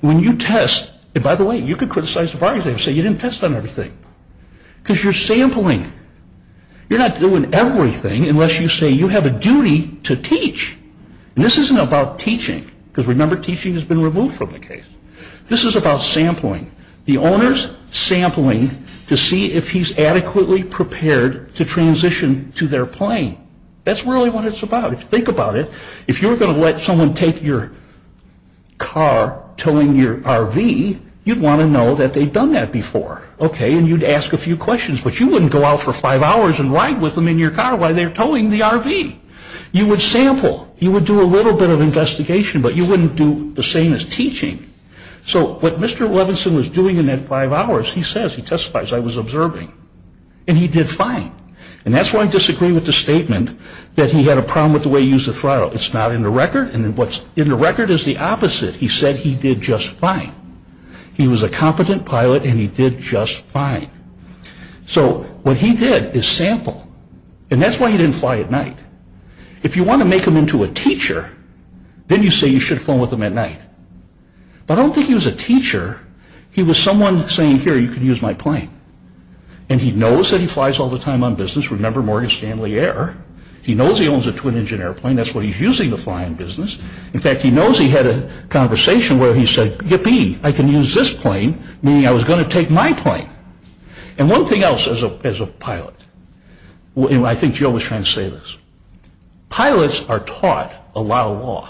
When you test, and by the way, you could criticize the bar exam and say you didn't test on everything because you're sampling. You're not doing everything unless you say you have a duty to teach. And this isn't about teaching because, remember, teaching has been removed from the case. This is about sampling. The owner's sampling to see if he's adequately prepared to transition to their plane. That's really what it's about. If you think about it, if you're going to let someone take your car towing your RV, you'd want to know that they've done that before. Okay, and you'd ask a few questions. But you wouldn't go out for five hours and ride with them in your car while they're towing the RV. You would sample. You would do a little bit of investigation, but you wouldn't do the same as teaching. So what Mr. Levinson was doing in that five hours, he says, he testifies, I was observing. And he did fine. And that's why I disagree with the statement that he had a problem with the way he used the throttle. It's not in the record, and what's in the record is the opposite. He said he did just fine. He was a competent pilot, and he did just fine. So what he did is sample. And that's why he didn't fly at night. If you want to make him into a teacher, then you say you should have flown with him at night. But I don't think he was a teacher. He was someone saying, here, you can use my plane. And he knows that he flies all the time on business. Remember Morgan Stanley Air. He knows he owns a twin-engine airplane. That's why he's using the flying business. In fact, he knows he had a conversation where he said, yippee, I can use this plane, meaning I was going to take my plane. And one thing else as a pilot, and I think Jill was trying to say this, pilots are taught a lot of law.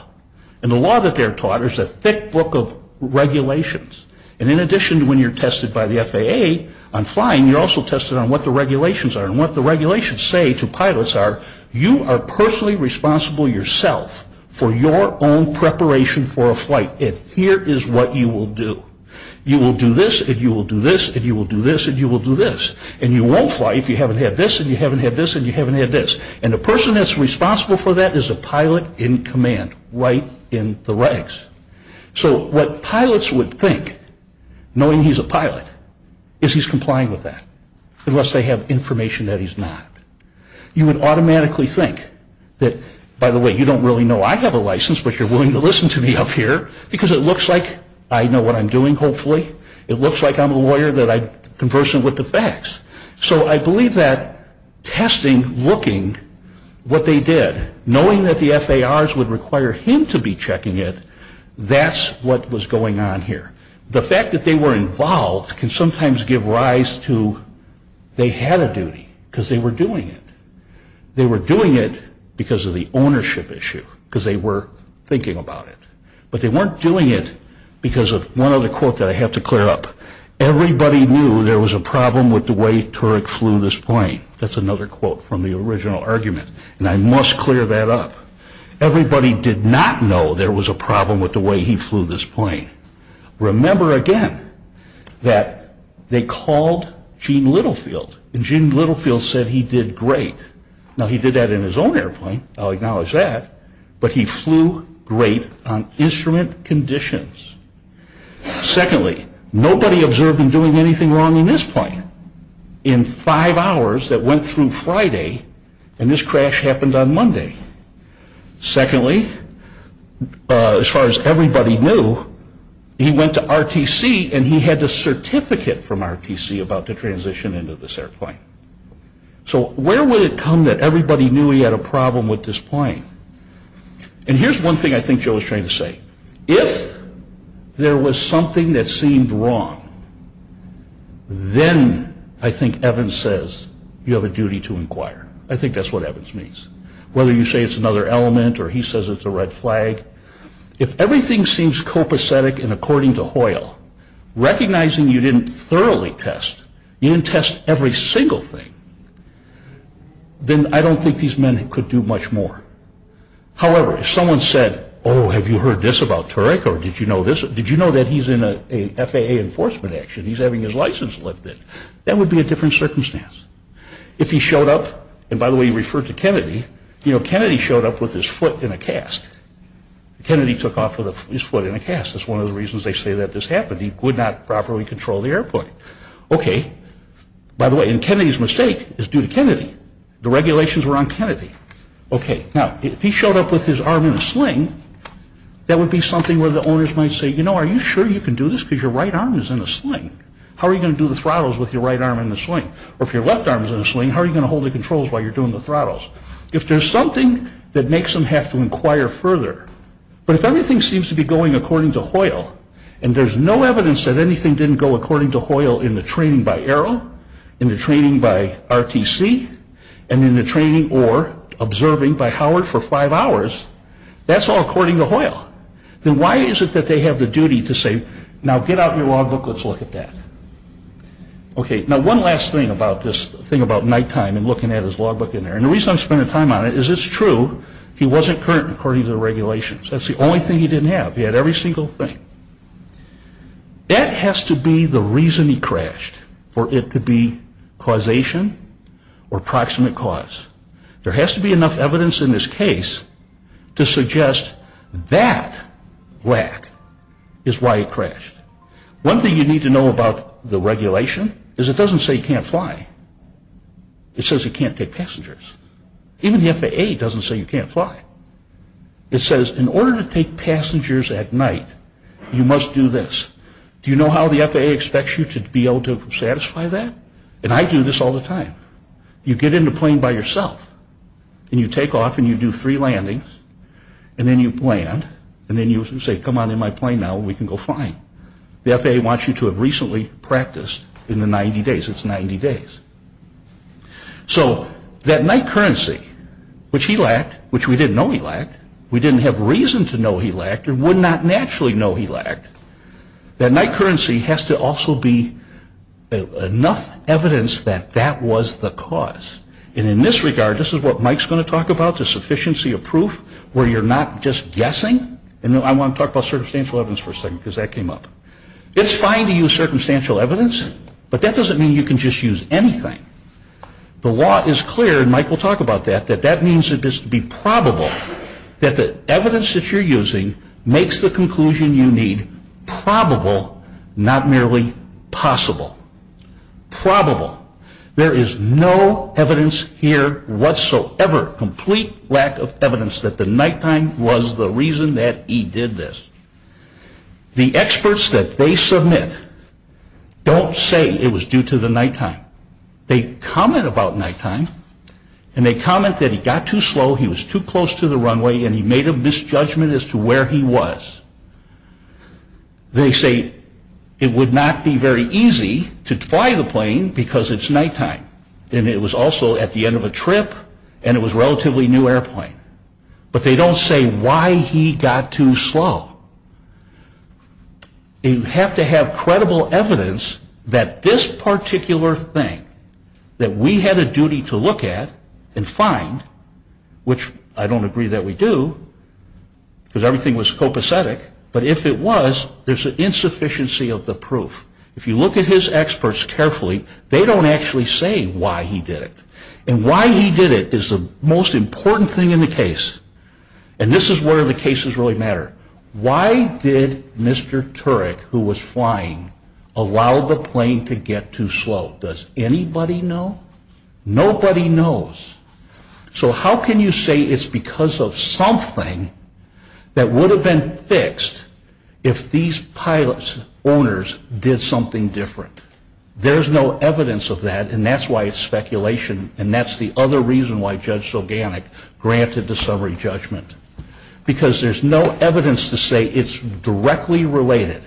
And the law that they're taught is a thick book of regulations. And in addition to when you're tested by the FAA on flying, you're also tested on what the regulations are. And what the regulations say to pilots are, you are personally responsible yourself for your own preparation for a flight. And here is what you will do. You will do this, and you will do this, and you will do this, and you will do this. And you won't fly if you haven't had this, and you haven't had this, and you haven't had this. And the person that's responsible for that is a pilot in command, right in the ranks. So what pilots would think, knowing he's a pilot, is he's complying with that, unless they have information that he's not. You would automatically think that, by the way, you don't really know I have a license, but you're willing to listen to me up here, because it looks like I know what I'm doing, hopefully. It looks like I'm a lawyer that I'm conversant with the facts. So I believe that testing, looking, what they did, knowing that the FARs would require him to be checking it, that's what was going on here. The fact that they were involved can sometimes give rise to they had a duty, because they were doing it. They were doing it because of the ownership issue, because they were thinking about it. But they weren't doing it because of one other quote that I have to clear up. Everybody knew there was a problem with the way Turek flew this plane. That's another quote from the original argument, and I must clear that up. Everybody did not know there was a problem with the way he flew this plane. Remember, again, that they called Gene Littlefield, and Gene Littlefield said he did great. Now, he did that in his own airplane, I'll acknowledge that, but he flew great on instrument conditions. Secondly, nobody observed him doing anything wrong in this plane. In five hours that went through Friday, and this crash happened on Monday. Secondly, as far as everybody knew, he went to RTC and he had the certificate from RTC about the transition into this airplane. So where would it come that everybody knew he had a problem with this plane? And here's one thing I think Joe is trying to say. If there was something that seemed wrong, then I think Evans says you have a duty to inquire. I think that's what Evans means. Whether you say it's another element or he says it's a red flag, if everything seems copacetic and according to Hoyle, recognizing you didn't thoroughly test, you didn't test every single thing, then I don't think these men could do much more. However, if someone said, oh, have you heard this about Turek, or did you know that he's in an FAA enforcement action, he's having his license lifted, that would be a different circumstance. If he showed up, and by the way, he referred to Kennedy, you know, Kennedy showed up with his foot in a cast. Kennedy took off with his foot in a cast. That's one of the reasons they say that this happened. He would not properly control the airplane. Okay, by the way, and Kennedy's mistake is due to Kennedy. The regulations were on Kennedy. Okay, now, if he showed up with his arm in a sling, that would be something where the owners might say, you know, are you sure you can do this because your right arm is in a sling? How are you going to do the throttles with your right arm in the sling? Or if your left arm is in a sling, how are you going to hold the controls while you're doing the throttles? If there's something that makes them have to inquire further, but if everything seems to be going according to Hoyle, and there's no evidence that anything didn't go according to Hoyle in the training by Arrow, in the training by RTC, and in the training or observing by Howard for five hours, that's all according to Hoyle. Then why is it that they have the duty to say, now get out your logbook, let's look at that? Okay, now one last thing about this thing about nighttime and looking at his logbook in there, and the reason I'm spending time on it is it's true he wasn't current according to the regulations. That's the only thing he didn't have. He had every single thing. That has to be the reason he crashed, for it to be causation or proximate cause. There has to be enough evidence in this case to suggest that lack is why he crashed. One thing you need to know about the regulation is it doesn't say he can't fly. It says he can't take passengers. Even the FAA doesn't say you can't fly. It says in order to take passengers at night, you must do this. Do you know how the FAA expects you to be able to satisfy that? And I do this all the time. You get in the plane by yourself, and you take off and you do three landings, and then you land, and then you say, come on in my plane now and we can go flying. The FAA wants you to have recently practiced in the 90 days. It's 90 days. So that night currency, which he lacked, which we didn't know he lacked, we didn't have reason to know he lacked and would not naturally know he lacked, that night currency has to also be enough evidence that that was the cause. And in this regard, this is what Mike's going to talk about, the sufficiency of proof where you're not just guessing. And I want to talk about circumstantial evidence for a second, because that came up. It's fine to use circumstantial evidence, but that doesn't mean you can just use anything. The law is clear, and Mike will talk about that, that that means it is to be probable that the evidence that you're using makes the conclusion you need probable, not merely possible. Probable. There is no evidence here whatsoever, complete lack of evidence that the nighttime was the reason that he did this. The experts that they submit don't say it was due to the nighttime. They comment about nighttime, and they comment that he got too slow, he was too close to the runway, and he made a misjudgment as to where he was. They say it would not be very easy to fly the plane because it's nighttime, and it was also at the end of a trip, and it was a relatively new airplane. But they don't say why he got too slow. You have to have credible evidence that this particular thing, that we had a duty to look at and find, which I don't agree that we do, because everything was copacetic, but if it was, there's an insufficiency of the proof. If you look at his experts carefully, they don't actually say why he did it. And why he did it is the most important thing in the case, and this is where the cases really matter. Why did Mr. Turek, who was flying, allow the plane to get too slow? Does anybody know? Nobody knows. So how can you say it's because of something that would have been fixed if these pilot's owners did something different? There's no evidence of that, and that's why it's speculation, and that's the other reason why Judge Soganic granted the summary judgment, because there's no evidence to say it's directly related,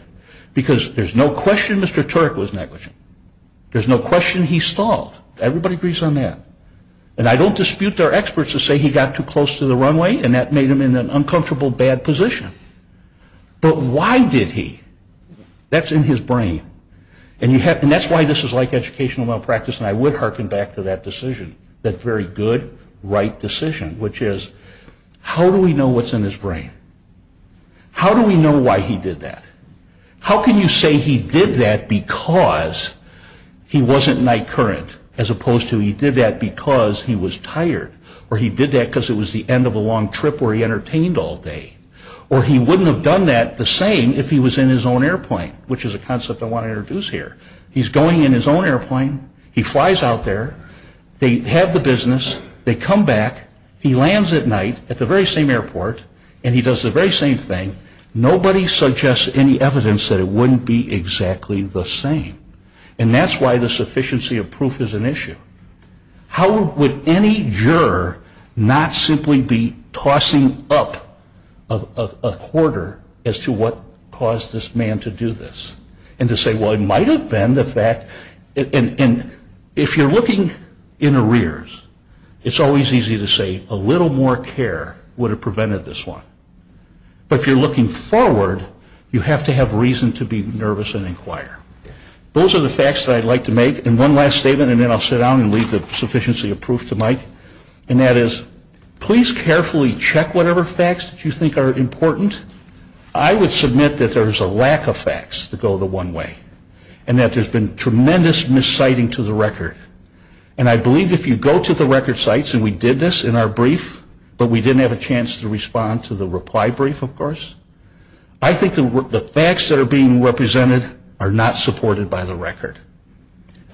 because there's no question Mr. Turek was negligent. There's no question he stalled. Everybody agrees on that. And I don't dispute their experts who say he got too close to the runway, and that made him in an uncomfortable, bad position. But why did he? That's in his brain. And that's why this is like educational malpractice, and I would hearken back to that decision, that very good, right decision, which is how do we know what's in his brain? How do we know why he did that? How can you say he did that because he wasn't night current, as opposed to he did that because he was tired, or he did that because it was the end of a long trip where he entertained all day, or he wouldn't have done that the same if he was in his own airplane, which is a concept I want to introduce here. He's going in his own airplane. He flies out there. They have the business. They come back. He lands at night at the very same airport, and he does the very same thing. Nobody suggests any evidence that it wouldn't be exactly the same, and that's why the sufficiency of proof is an issue. How would any juror not simply be tossing up a quarter as to what caused this man to do this and to say, well, it might have been the fact, and if you're looking in arrears, it's always easy to say a little more care would have prevented this one. But if you're looking forward, you have to have reason to be nervous and inquire. Those are the facts that I'd like to make. And one last statement, and then I'll sit down and leave the sufficiency of proof to Mike, and that is please carefully check whatever facts that you think are important. I would submit that there's a lack of facts to go the one way and that there's been tremendous misciting to the record. And I believe if you go to the record sites, and we did this in our brief, but we didn't have a chance to respond to the reply brief, of course, I think the facts that are being represented are not supported by the record.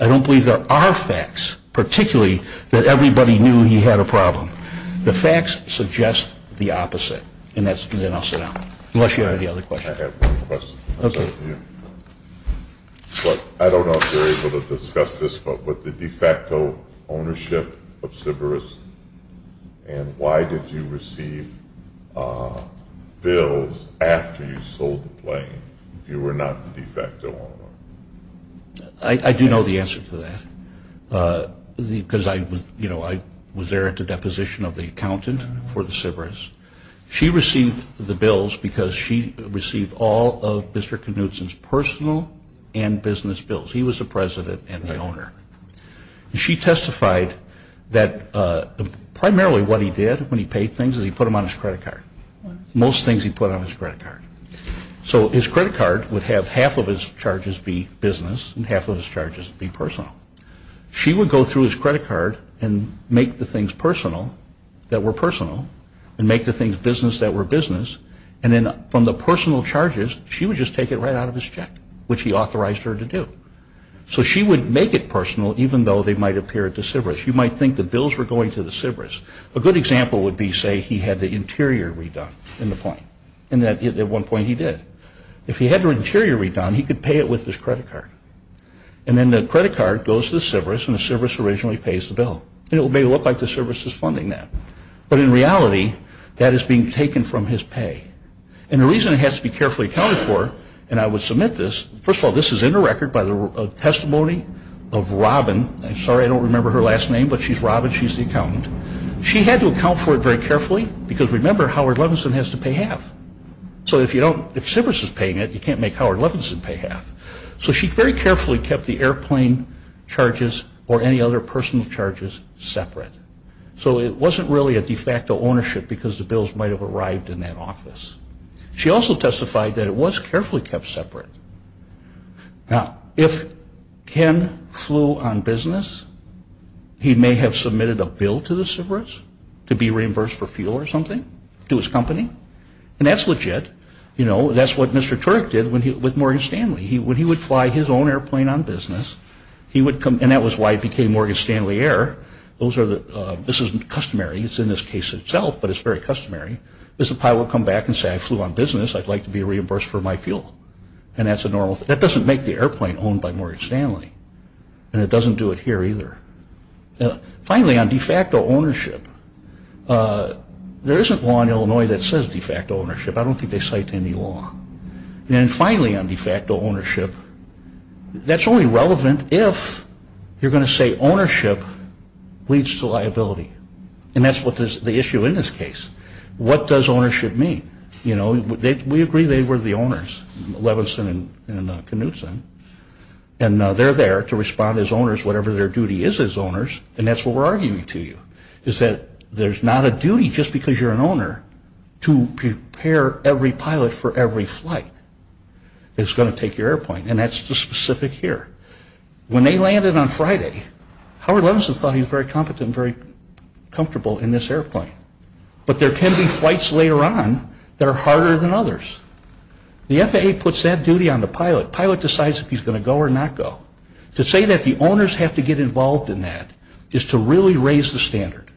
I don't believe there are facts, particularly that everybody knew he had a problem. The facts suggest the opposite. And then I'll sit down, unless you have any other questions. I have one question. I don't know if you're able to discuss this, but with the de facto ownership of Siverus, and why did you receive bills after you sold the plane if you were not the de facto owner? I do know the answer to that. Because I was there at the deposition of the accountant for the Siverus. She received the bills because she received all of District of Knudsen's personal and business bills. He was the president and the owner. She testified that primarily what he did when he paid things is he put them on his credit card. Most things he put on his credit card. So his credit card would have half of his charges be business and half of his charges be personal. She would go through his credit card and make the things personal that were personal and make the things business that were business. And then from the personal charges, she would just take it right out of his check, which he authorized her to do. So she would make it personal even though they might appear at the Siverus. You might think the bills were going to the Siverus. A good example would be, say, he had the interior redone in the plane. And at one point he did. If he had the interior redone, he could pay it with his credit card. And then the credit card goes to the Siverus, and the Siverus originally pays the bill. And it may look like the Siverus is funding that. But in reality, that is being taken from his pay. And the reason it has to be carefully accounted for, and I would submit this, first of all, this is in the record by the testimony of Robin. I'm sorry I don't remember her last name, but she's Robin. She's the accountant. She had to account for it very carefully because, remember, Howard Levinson has to pay half. So if Siverus is paying it, you can't make Howard Levinson pay half. So she very carefully kept the airplane charges or any other personal charges separate. So it wasn't really a de facto ownership because the bills might have arrived in that office. She also testified that it was carefully kept separate. Now, if Ken flew on business, he may have submitted a bill to the Siverus to be reimbursed for fuel or something to his company. And that's legit. You know, that's what Mr. Turick did with Morgan Stanley. When he would fly his own airplane on business, he would come, and that was why it became Morgan Stanley Air. This is customary. It's in this case itself, but it's very customary. The pilot would come back and say, I flew on business. I'd like to be reimbursed for my fuel. And that's a normal thing. That doesn't make the airplane owned by Morgan Stanley, and it doesn't do it here either. Finally, on de facto ownership, there isn't law in Illinois that says de facto ownership. I don't think they cite any law. And finally, on de facto ownership, that's only relevant if you're going to say ownership leads to liability. And that's the issue in this case. What does ownership mean? You know, we agree they were the owners, Levinson and Knutson, and they're there to respond as owners, whatever their duty is as owners, and that's what we're arguing to you, is that there's not a duty just because you're an owner to prepare every pilot for every flight that's going to take your airplane, and that's the specific here. When they landed on Friday, Howard Levinson thought he was very competent, and very comfortable in this airplane. But there can be flights later on that are harder than others. The FAA puts that duty on the pilot. The pilot decides if he's going to go or not go. To say that the owners have to get involved in that is to really raise the standard.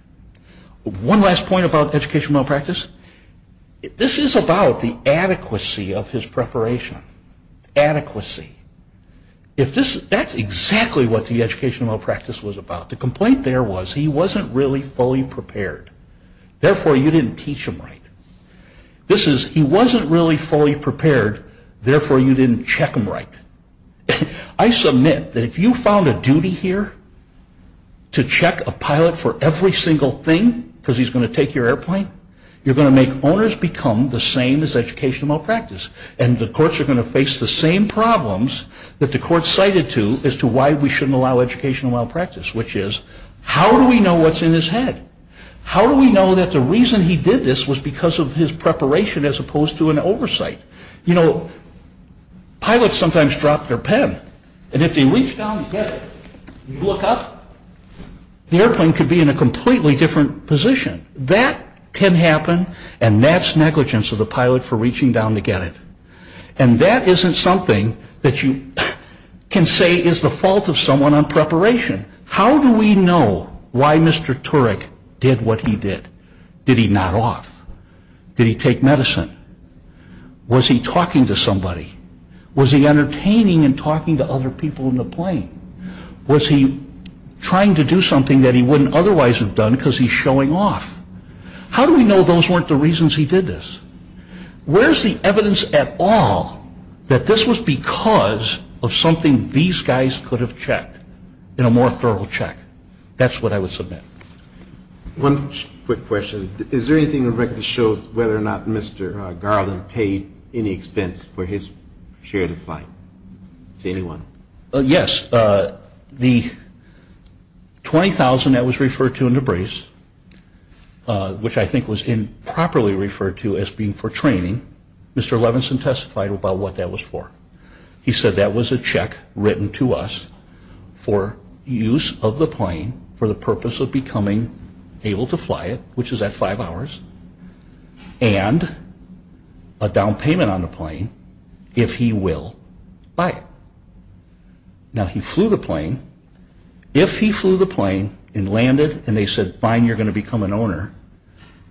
One last point about educational malpractice. This is about the adequacy of his preparation. Adequacy. That's exactly what the educational malpractice was about. The complaint there was he wasn't really fully prepared. Therefore, you didn't teach him right. This is he wasn't really fully prepared, therefore you didn't check him right. I submit that if you found a duty here to check a pilot for every single thing, because he's going to take your airplane, you're going to make owners become the same as educational malpractice, and the courts are going to face the same problems that the courts cited to as to why we shouldn't allow educational malpractice, which is how do we know what's in his head? How do we know that the reason he did this was because of his preparation as opposed to an oversight? You know, pilots sometimes drop their pen, and if they reach down to get it and look up, the airplane could be in a completely different position. That can happen, and that's negligence of the pilot for reaching down to get it. And that isn't something that you can say is the fault of someone on preparation. How do we know why Mr. Turek did what he did? Did he not walk? Did he take medicine? Was he talking to somebody? Was he entertaining and talking to other people in the plane? Was he trying to do something that he wouldn't otherwise have done because he's showing off? How do we know those weren't the reasons he did this? Where is the evidence at all that this was because of something these guys could have checked in a more thorough check? That's what I would submit. One quick question. Is there anything in the record that shows whether or not Mr. Garland paid any expense for his shared flight? Anyone? Yes. The $20,000 that was referred to in the brace, which I think was improperly referred to as being for training, Mr. Levinson testified about what that was for. He said that was a check written to us for use of the plane for the purpose of becoming able to fly it, which is at five hours, and a down payment on the plane if he will fly it. Now, he flew the plane. If he flew the plane and landed and they said, fine, you're going to become an owner,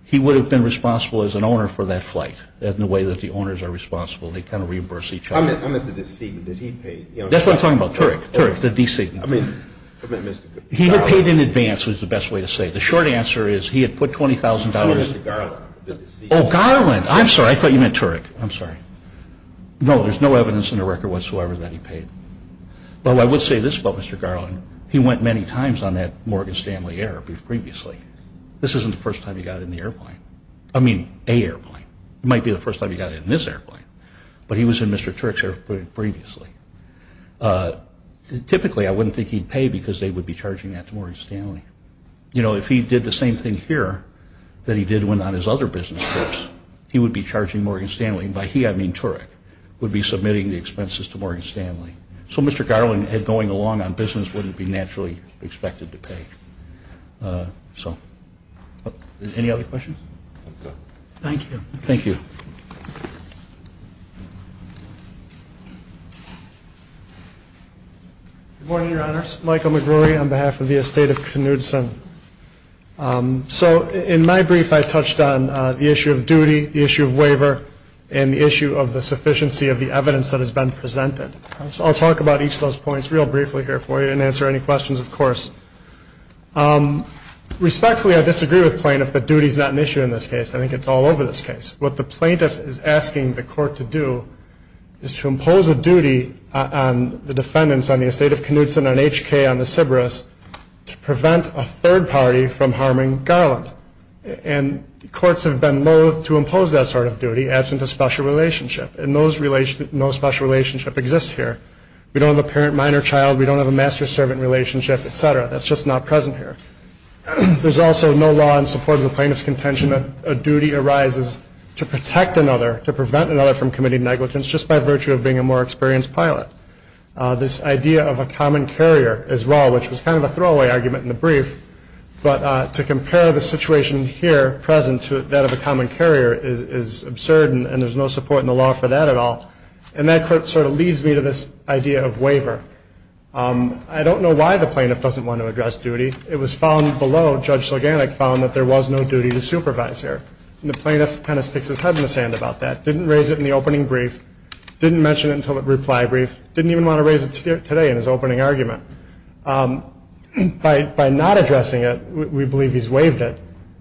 he would have been responsible as an owner for that flight in the way that the owners are responsible. They kind of reimburse each other. That's what I'm talking about. Turek, the DC. He had paid in advance was the best way to say it. The short answer is he had put $20,000. Oh, Garland. I'm sorry, I thought you meant Turek. I'm sorry. No, there's no evidence in the record whatsoever that he paid. Oh, I would say this about Mr. Garland. He went many times on that Morgan Stanley Air previously. This isn't the first time he got in the airplane. I mean, a airplane. It might be the first time he got in this airplane, but he was in Mr. Turek's airplane previously. Typically, I wouldn't think he'd pay because they would be charging that to Morgan Stanley. You know, if he did the same thing here that he did when on his other business trips, he would be charging Morgan Stanley. By he, I mean Turek, would be submitting the expenses to Morgan Stanley. So Mr. Garland, going along on business, wouldn't be naturally expected to pay. Any other questions? Thank you. Thank you. Good morning, Your Honors. Michael McGruey on behalf of the estate of Knudson. So in my brief, I touched on the issue of duty, the issue of waiver, and the issue of the sufficiency of the evidence that has been presented. I'll talk about each of those points real briefly here for you and answer any questions, of course. Respectfully, I disagree with plaintiffs that duty is not an issue in this case. I think it's all over this case. What the plaintiff is asking the court to do is to impose a duty on the defendants on the estate of Knudson on HK on the Sybaris to prevent a third party from harming Garland. And courts have been loath to impose that sort of duty as a special relationship. And no special relationship exists here. We don't have a parent-minor child. We don't have a master-servant relationship, et cetera. That's just not present here. There's also no law in support of the plaintiff's contention that a duty arises to protect another, to prevent another from committing negligence just by virtue of being a more experienced pilot. This idea of a common carrier as well, which was kind of a throwaway argument in the brief, but to compare the situation here, present, to that of a common carrier is absurd and there's no support in the law for that at all. And that sort of leads me to this idea of waiver. I don't know why the plaintiff doesn't want to address duty. It was found below, Judge Saganek found, that there was no duty to supervise here. And the plaintiff kind of sticks his head in the sand about that. Didn't raise it in the opening brief. Didn't mention it until the reply brief. Didn't even want to raise it today in his opening argument. By not addressing it, we believe he's waived it.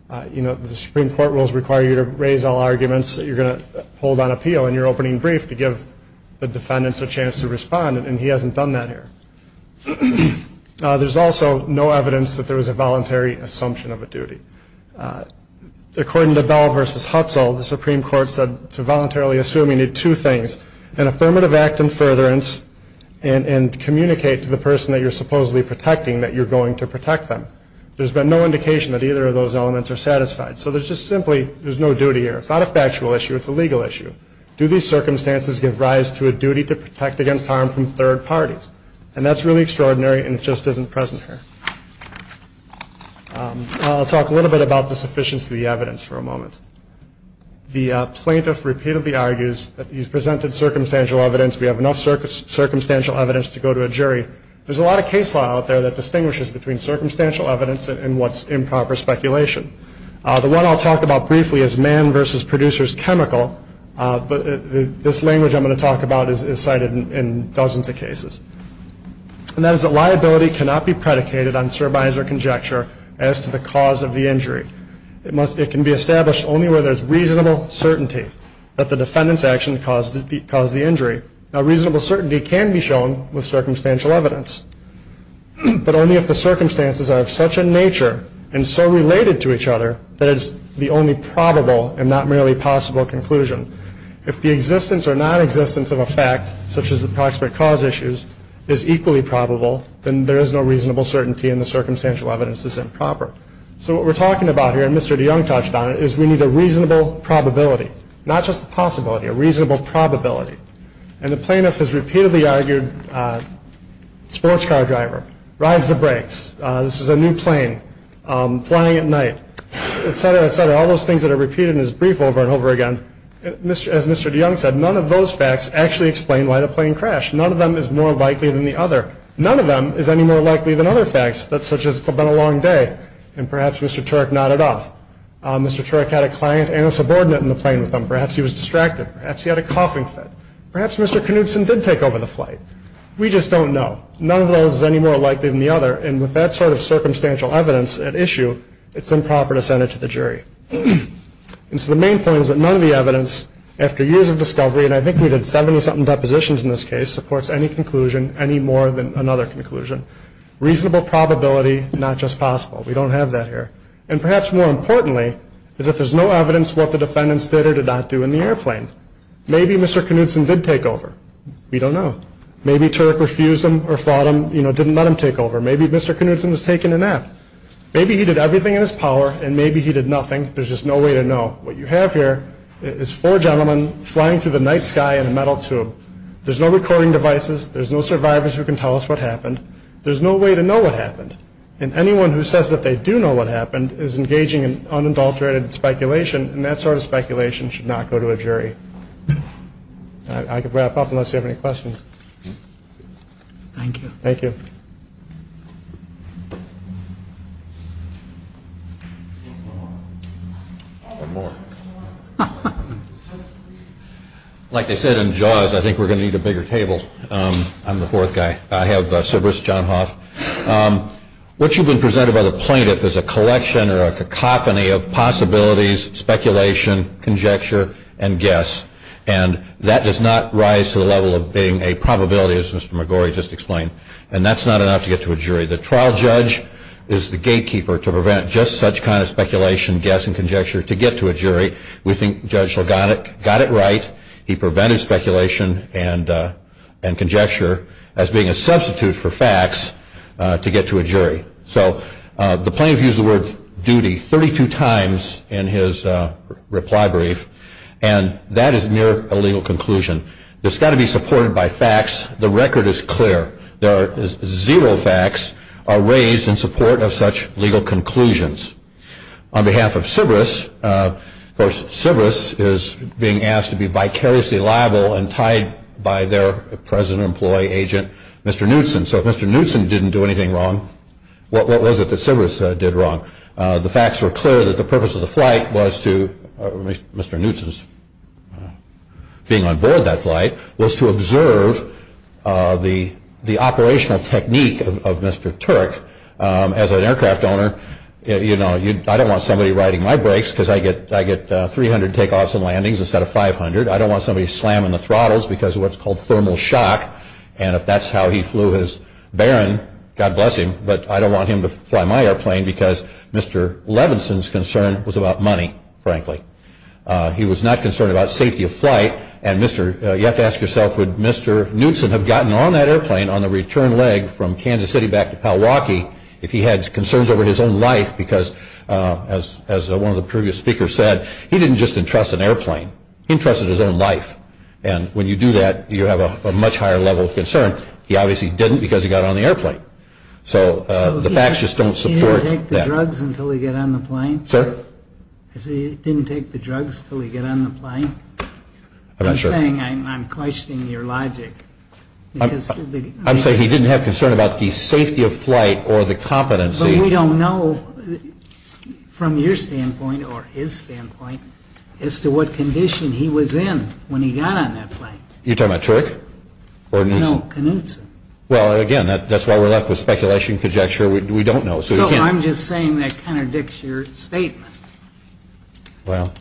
The Supreme Court rules require you to raise all arguments that you're going to hold on appeal in your opening brief to give the defendants a chance to respond, and he hasn't done that here. There's also no evidence that there was a voluntary assumption of a duty. According to Bell v. Hutzel, the Supreme Court said to voluntarily assume you need two things, an affirmative act in furtherance and communicate to the person that you're supposedly protecting that you're going to protect them. There's been no indication that either of those elements are satisfied. So there's just simply, there's no duty here. It's not a factual issue, it's a legal issue. Do these circumstances give rise to a duty to protect against harm from third parties? And that's really extraordinary, and it just isn't present here. I'll talk a little bit about the sufficiency of the evidence for a moment. The plaintiff repeatedly argues that he's presented circumstantial evidence, we have enough circumstantial evidence to go to a jury. There's a lot of case law out there that distinguishes between circumstantial evidence and what's improper speculation. The one I'll talk about briefly is Mann v. Producers Chemical, but this language I'm going to talk about is cited in dozens of cases. And that is that liability cannot be predicated on surmise or conjecture as to the cause of the injury. It can be established only where there's reasonable certainty that the defendant's action caused the injury. Now, reasonable certainty can be shown with circumstantial evidence, but only if the circumstances are of such a nature and so related to each other that it's the only probable and not merely possible conclusion. If the existence or nonexistence of a fact, such as approximate cause issues, is equally probable, then there is no reasonable certainty and the circumstantial evidence is improper. So what we're talking about here, and Mr. DeYoung touched on it, is we need a reasonable probability, not just a possibility, a reasonable probability. And the plaintiff has repeatedly argued sports car driver, rides the brakes, this is a new plane, flying at night, etc., etc., all those things that are repeated in his brief over and over again. As Mr. DeYoung said, none of those facts actually explain why the plane crashed. None of them is more likely than the other. None of them is any more likely than other facts, such as it's been a long day, and perhaps Mr. Turek nodded off. Mr. Turek had a client and a subordinate in the plane with him. Perhaps he was distracted. Perhaps he had a coughing fit. Perhaps Mr. Knudsen did take over the flight. We just don't know. None of those is any more likely than the other, and with that sort of circumstantial evidence at issue, it's improper to send it to the jury. And so the main point is that none of the evidence, after years of discovery, and I think we did 70-something depositions in this case, supports any conclusion, any more than another conclusion. Reasonable probability, not just possible. We don't have that here. And perhaps more importantly, if there's no evidence what the defendants did or did not do in the airplane, maybe Mr. Knudsen did take over. We don't know. Maybe Turek refused him or didn't let him take over. Maybe Mr. Knudsen was taking a nap. Maybe he did everything in his power, and maybe he did nothing. There's just no way to know. What you have here is four gentlemen flying through the night sky in a metal tube. There's no recording devices. There's no survivors who can tell us what happened. There's no way to know what happened. And anyone who says that they do know what happened is engaging in unadulterated speculation, and that sort of speculation should not go to a jury. I can wrap up unless you have any questions. Thank you. Thank you. Like I said in JAWS, I think we're going to need a bigger table. I'm the fourth guy. I have Sir Bruce Johnhoff. What you've been presented by the plaintiff is a collection or a cacophony of possibilities, speculation, conjecture, and guess, and that does not rise to the level of being a probability, as Mr. McGorry just explained, and that's not enough to get to a jury. The trial judge is the gatekeeper to prevent just such kind of speculation, guess, and conjecture to get to a jury. We think Judge Logano got it right. He prevented speculation and conjecture as being a substitute for facts to get to a jury. So the plaintiff used the word duty 32 times in his reply brief, and that is near a legal conclusion. It's got to be supported by facts. The record is clear. Zero facts are raised in support of such legal conclusions. On behalf of CBRSS, of course, CBRSS is being asked to be vicariously liable and tied by their president, employee, agent, Mr. Knutson. So if Mr. Knutson didn't do anything wrong, what was it that CBRSS did wrong? The facts were clear that the purpose of the flight was to, Mr. Knutson's being on board that flight, was to observe the operational technique of Mr. Turk. As an aircraft owner, you know, I don't want somebody riding my brakes because I get 300 takeoffs and landings instead of 500. I don't want somebody slamming the throttles because of what's called thermal shock. And if that's how he flew his Baron, God bless him, but I don't want him to fly my airplane because Mr. Levinson's concern was about money, frankly. He was not concerned about safety of flight. You have to ask yourself, would Mr. Knutson have gotten on that airplane on the return leg from Kansas City back to Powahki if he had concerns over his own life because, as one of the previous speakers said, he didn't just entrust an airplane. He entrusted his own life. And when you do that, you have a much higher level of concern. He obviously didn't because he got on the airplane. So the facts just don't support that. He didn't take the drugs until he got on the plane? Sir? He didn't take the drugs until he got on the plane? I'm not sure. I'm saying I'm questioning your logic. I'm saying he didn't have concern about the safety of flight or the competency. But we don't know, from your standpoint or his standpoint, as to what condition he was in when he got on that plane. You're talking about Turk or Knutson? No, Knutson. Well, again, that's why we're left with speculation, conjecture. We don't know. So I'm just saying that contradicts your statement. Well,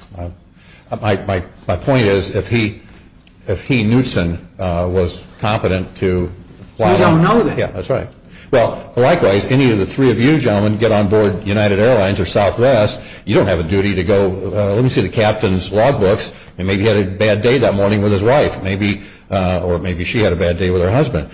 my point is, if he, Knutson, was competent to fly... We don't know that. Yeah, that's right. Well, likewise, any of the three of you gentlemen get on board United Airlines or Southwest, you don't have a duty to go see the captain's logbooks and maybe he had a bad day that morning with his wife or maybe she had a bad day with her husband.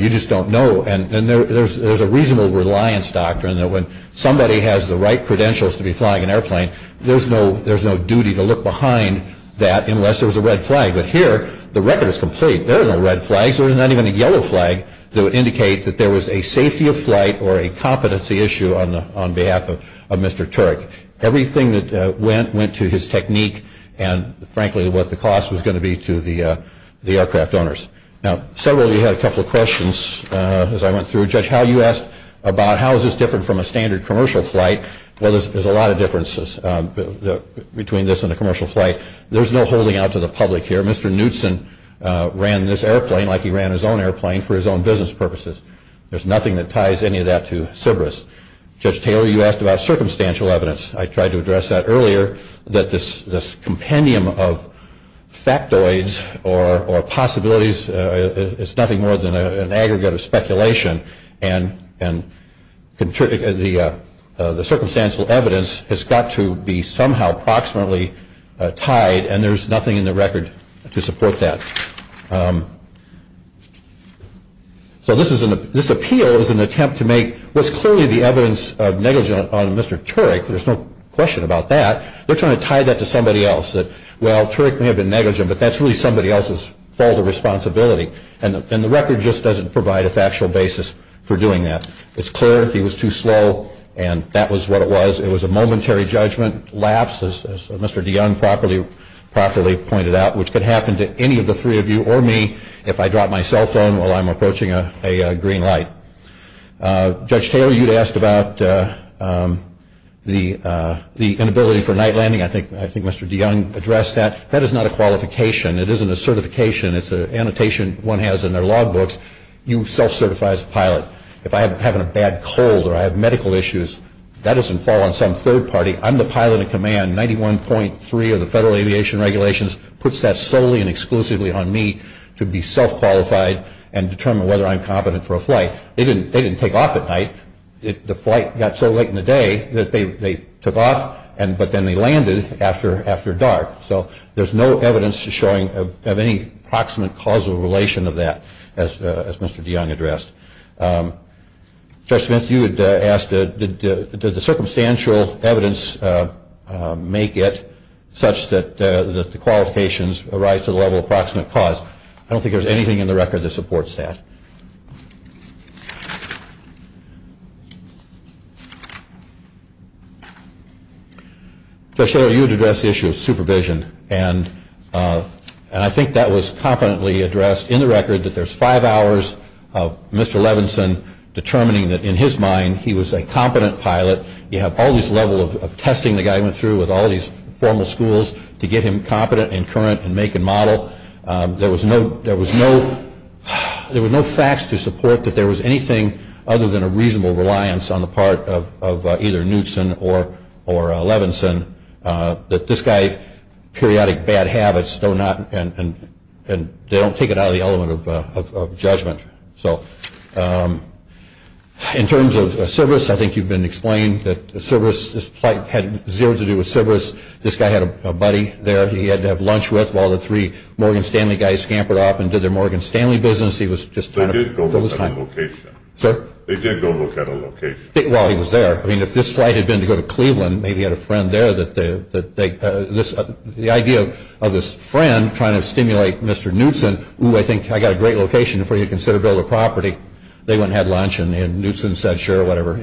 You just don't know. And there's a reasonable reliance doctrine that when somebody has the right credentials to be flying an airplane, there's no duty to look behind that unless there was a red flag. But here, the record is complete. There was no red flag. There was not even a yellow flag that would indicate that there was a safety of flight or a competency issue on behalf of Mr. Turk. Everything that went went to his technique and, frankly, what the cost was going to be to the aircraft owners. Now, several of you had a couple of questions as I went through. Judge Howe, you asked about how is this different from a standard commercial flight. Well, there's a lot of differences between this and a commercial flight. There's no holding out to the public here. Mr. Knutson ran this airplane like he ran his own airplane for his own business purposes. There's nothing that ties any of that to CBRSS. Judge Taylor, you asked about circumstantial evidence. I tried to address that earlier, that this compendium of factoids or possibilities is nothing more than an aggregate of speculation, and the circumstantial evidence has got to be somehow approximately tied, and there's nothing in the record to support that. So this appeal is an attempt to make what's clearly the evidence of negligence on Mr. Turk. There's no question about that. They're trying to tie that to somebody else. Well, Turk may have been negligent, but that's really somebody else's fault or responsibility, and the record just doesn't provide a factual basis for doing that. It's clear he was too slow, and that was what it was. It was a momentary judgment lapse, as Mr. DeYoung properly pointed out, which could happen to any of the three of you or me if I drop my cell phone while I'm approaching a green light. Judge Taylor, you asked about the inability for night landing. I think Mr. DeYoung addressed that. That is not a qualification. It isn't a certification. It's an annotation one has in their logbooks. You self-certify as a pilot. If I'm having a bad cold or I have medical issues, that doesn't fall on some third party. I'm the pilot in command. 91.3 of the Federal Aviation Regulations puts that solely and exclusively on me to be self-qualified and determine whether I'm competent for a flight. They didn't take off at night. The flight got so late in the day that they took off, but then they landed after dark. So there's no evidence showing of any proximate causal relation of that, as Mr. DeYoung addressed. Judge Smith, you had asked, does the circumstantial evidence make it such that the qualifications arise to the level of proximate cause? I don't think there's anything in the record that supports that. Judge Taylor, you had addressed the issue of supervision, and I think that was competently addressed in the record, that there's five hours of Mr. Levinson determining that, in his mind, he was a competent pilot. You have all this level of testing the guy went through with all these formal schools to get him competent and current and make and model. There were no facts to support that there was anything other than a reasonable reliance on the part of either Newtson or Levinson that this guy, periodic bad habits, they don't take it out of the element of judgment. In terms of Syverus, I think you've been explained that Syverus, this flight had zero to do with Syverus. This guy had a buddy there that he had to have lunch with while the three Morgan Stanley guys scampered off and did their Morgan Stanley business. They did go look at a location. They did go look at a location. While he was there, if this flight had been to go to Cleveland, maybe he had a friend there. The idea of this friend trying to stimulate Mr. Newtson, I think I've got a great location for you to consider to build a property. They went and had lunch, and Newtson said sure, whatever.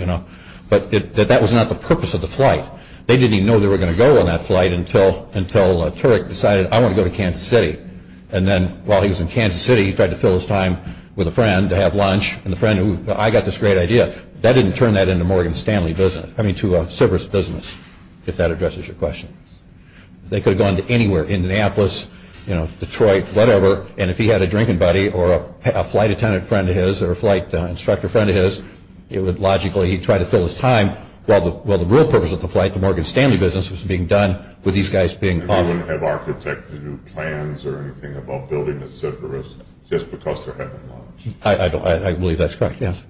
But that was not the purpose of the flight. They didn't even know they were going to go on that flight until Turek decided, I want to go to Kansas City. And then, while he was in Kansas City, he tried to fill his time with a friend to have lunch, and the friend, I've got this great idea. That didn't turn that into a Morgan Stanley business. I mean, to a Syverus business, if that addresses your question. They could have gone to anywhere, Indianapolis, Detroit, whatever, and if he had a drinking buddy or a flight attendant friend of his or a flight instructor friend of his, it would logically, he'd try to fill his time while the real purpose of the flight, the Morgan Stanley business, was being done with these guys being called. You wouldn't have architected new plans or anything about building a Syverus just because they're having lunch? I believe that's correct, yes.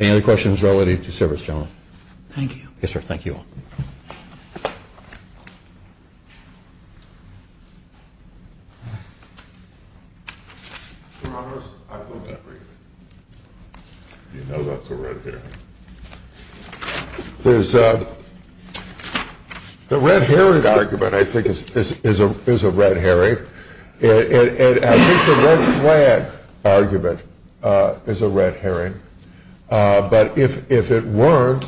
Any other questions related to Syverus, Joan? Thank you. Yes, sir, thank you. The red herring argument, I think, is a red herring. At least the red flag argument is a red herring. But if it weren't,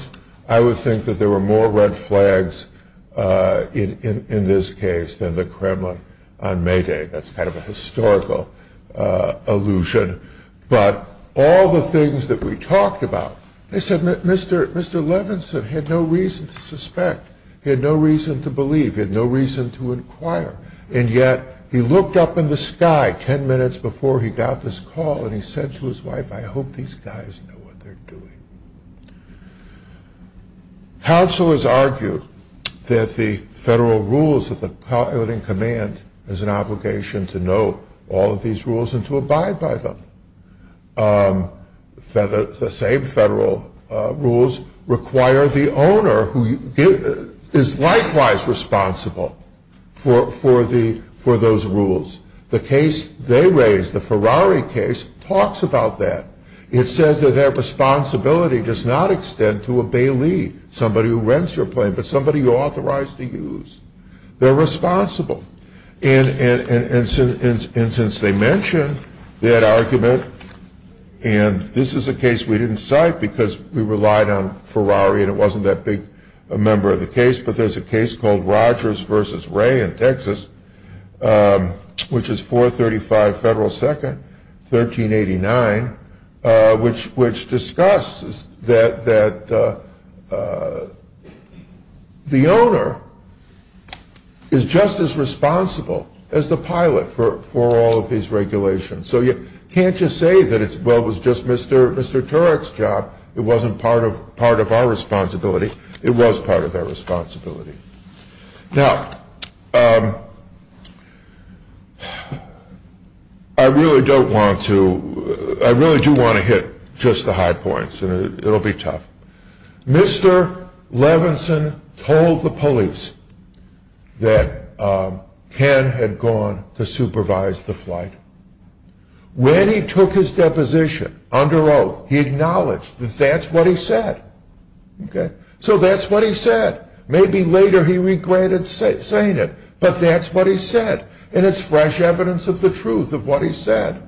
I would think that there were more red flags in this case than the Kremlin on May Day. That's kind of a historical allusion. But all the things that we talked about, Mr. Levinson had no reason to suspect. He had no reason to believe. He had no reason to inquire. And yet he looked up in the sky ten minutes before he got this call and he said to his wife, I hope these guys know what they're doing. Counselors argued that the federal rules of the pilot in command has an obligation to know all of these rules and to abide by them. The same federal rules require the owner who is likewise responsible for those rules. The case they raised, the Ferrari case, talks about that. It says that their responsibility does not extend to a bailee, somebody who rents your plane, but somebody you're authorized to use. They're responsible. And since they mentioned that argument, and this is a case we didn't cite because we relied on Ferrari and it wasn't that big a member of the case, but there's a case called Rogers v. Ray in Texas, which is 435 Federal 2nd, 1389, which discusses that the owner is just as responsible as the pilot for all of these regulations. So you can't just say that it was just Mr. Turek's job. It wasn't part of our responsibility. It was part of our responsibility. Now, I really don't want to, I really do want to hit just the high points. It will be tough. Mr. Levinson told the police that Ken had gone to supervise the flight. When he took his deposition under oath, he acknowledged that that's what he said. So that's what he said. Maybe later he regretted saying it, but that's what he said. And it's fresh evidence of the truth of what he said.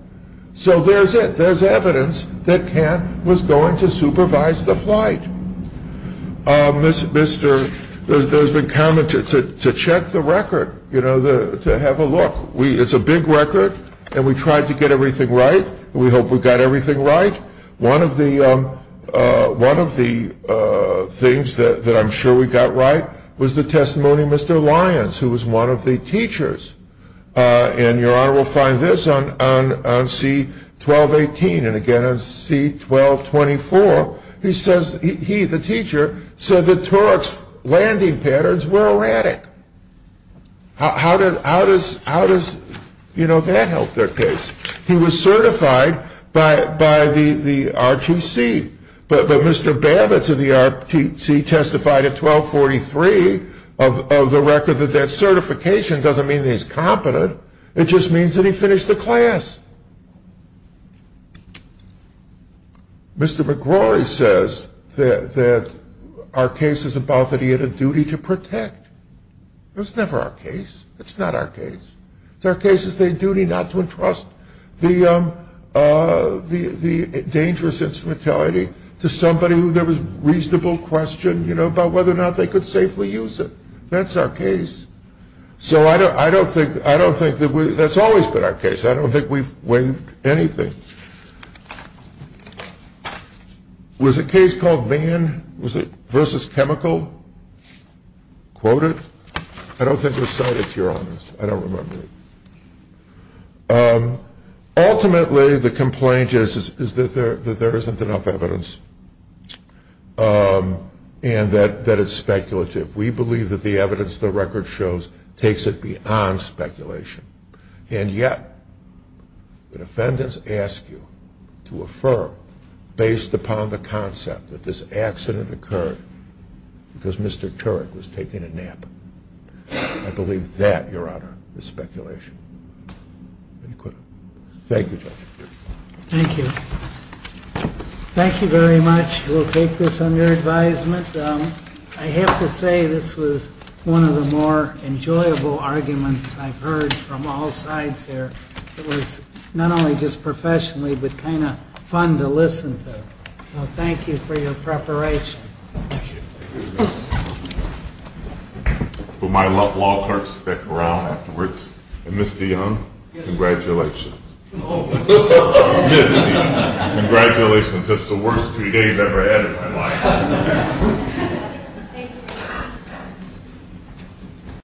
So there's it. There's evidence that Ken was going to supervise the flight. There's been comment to check the record, to have a look. It's a big record, and we tried to get everything right. We hope we got everything right. One of the things that I'm sure we got right was the testimony of Mr. Lyons, who was one of the teachers. And, Your Honor, we'll find this on C-1218. And, again, on C-1224, he says he, the teacher, said that Turek's landing patterns were erratic. How does that help their case? He was certified by the R2C, but Mr. Babbitt of the R2C testified at 1243 of the record that that certification doesn't mean that he's competent. It just means that he finished the class. Mr. McGrory says that our case is about that he had a duty to protect. That's never our case. It's not our case. It's our case that they had a duty not to entrust the dangerous instrumentality to somebody who there was reasonable question, you know, about whether or not they could safely use it. That's our case. So I don't think that's always been our case. I don't think we've won anything. Was a case called Van versus Chemical? Quote it? I don't think there's cited here on this. I don't remember. Ultimately, the complaint is that there isn't enough evidence and that it's speculative. We believe that the evidence the record shows takes it beyond speculation. And yet the defendants ask you to affirm, based upon the concept that this accident occurred because Mr. Turek was taking a nap. I believe that, Your Honor, is speculation. Thank you, Judge. Thank you. Thank you very much. We'll take this under advisement. I have to say this was one of the more enjoyable arguments I've heard from all sides here. It was not only just professionally, but kind of fun to listen to. Well, thank you for your preparation. Thank you. To my loved ones, Rick and Ms. Dionne, congratulations. Congratulations. That's the worst TV I've ever had in my life.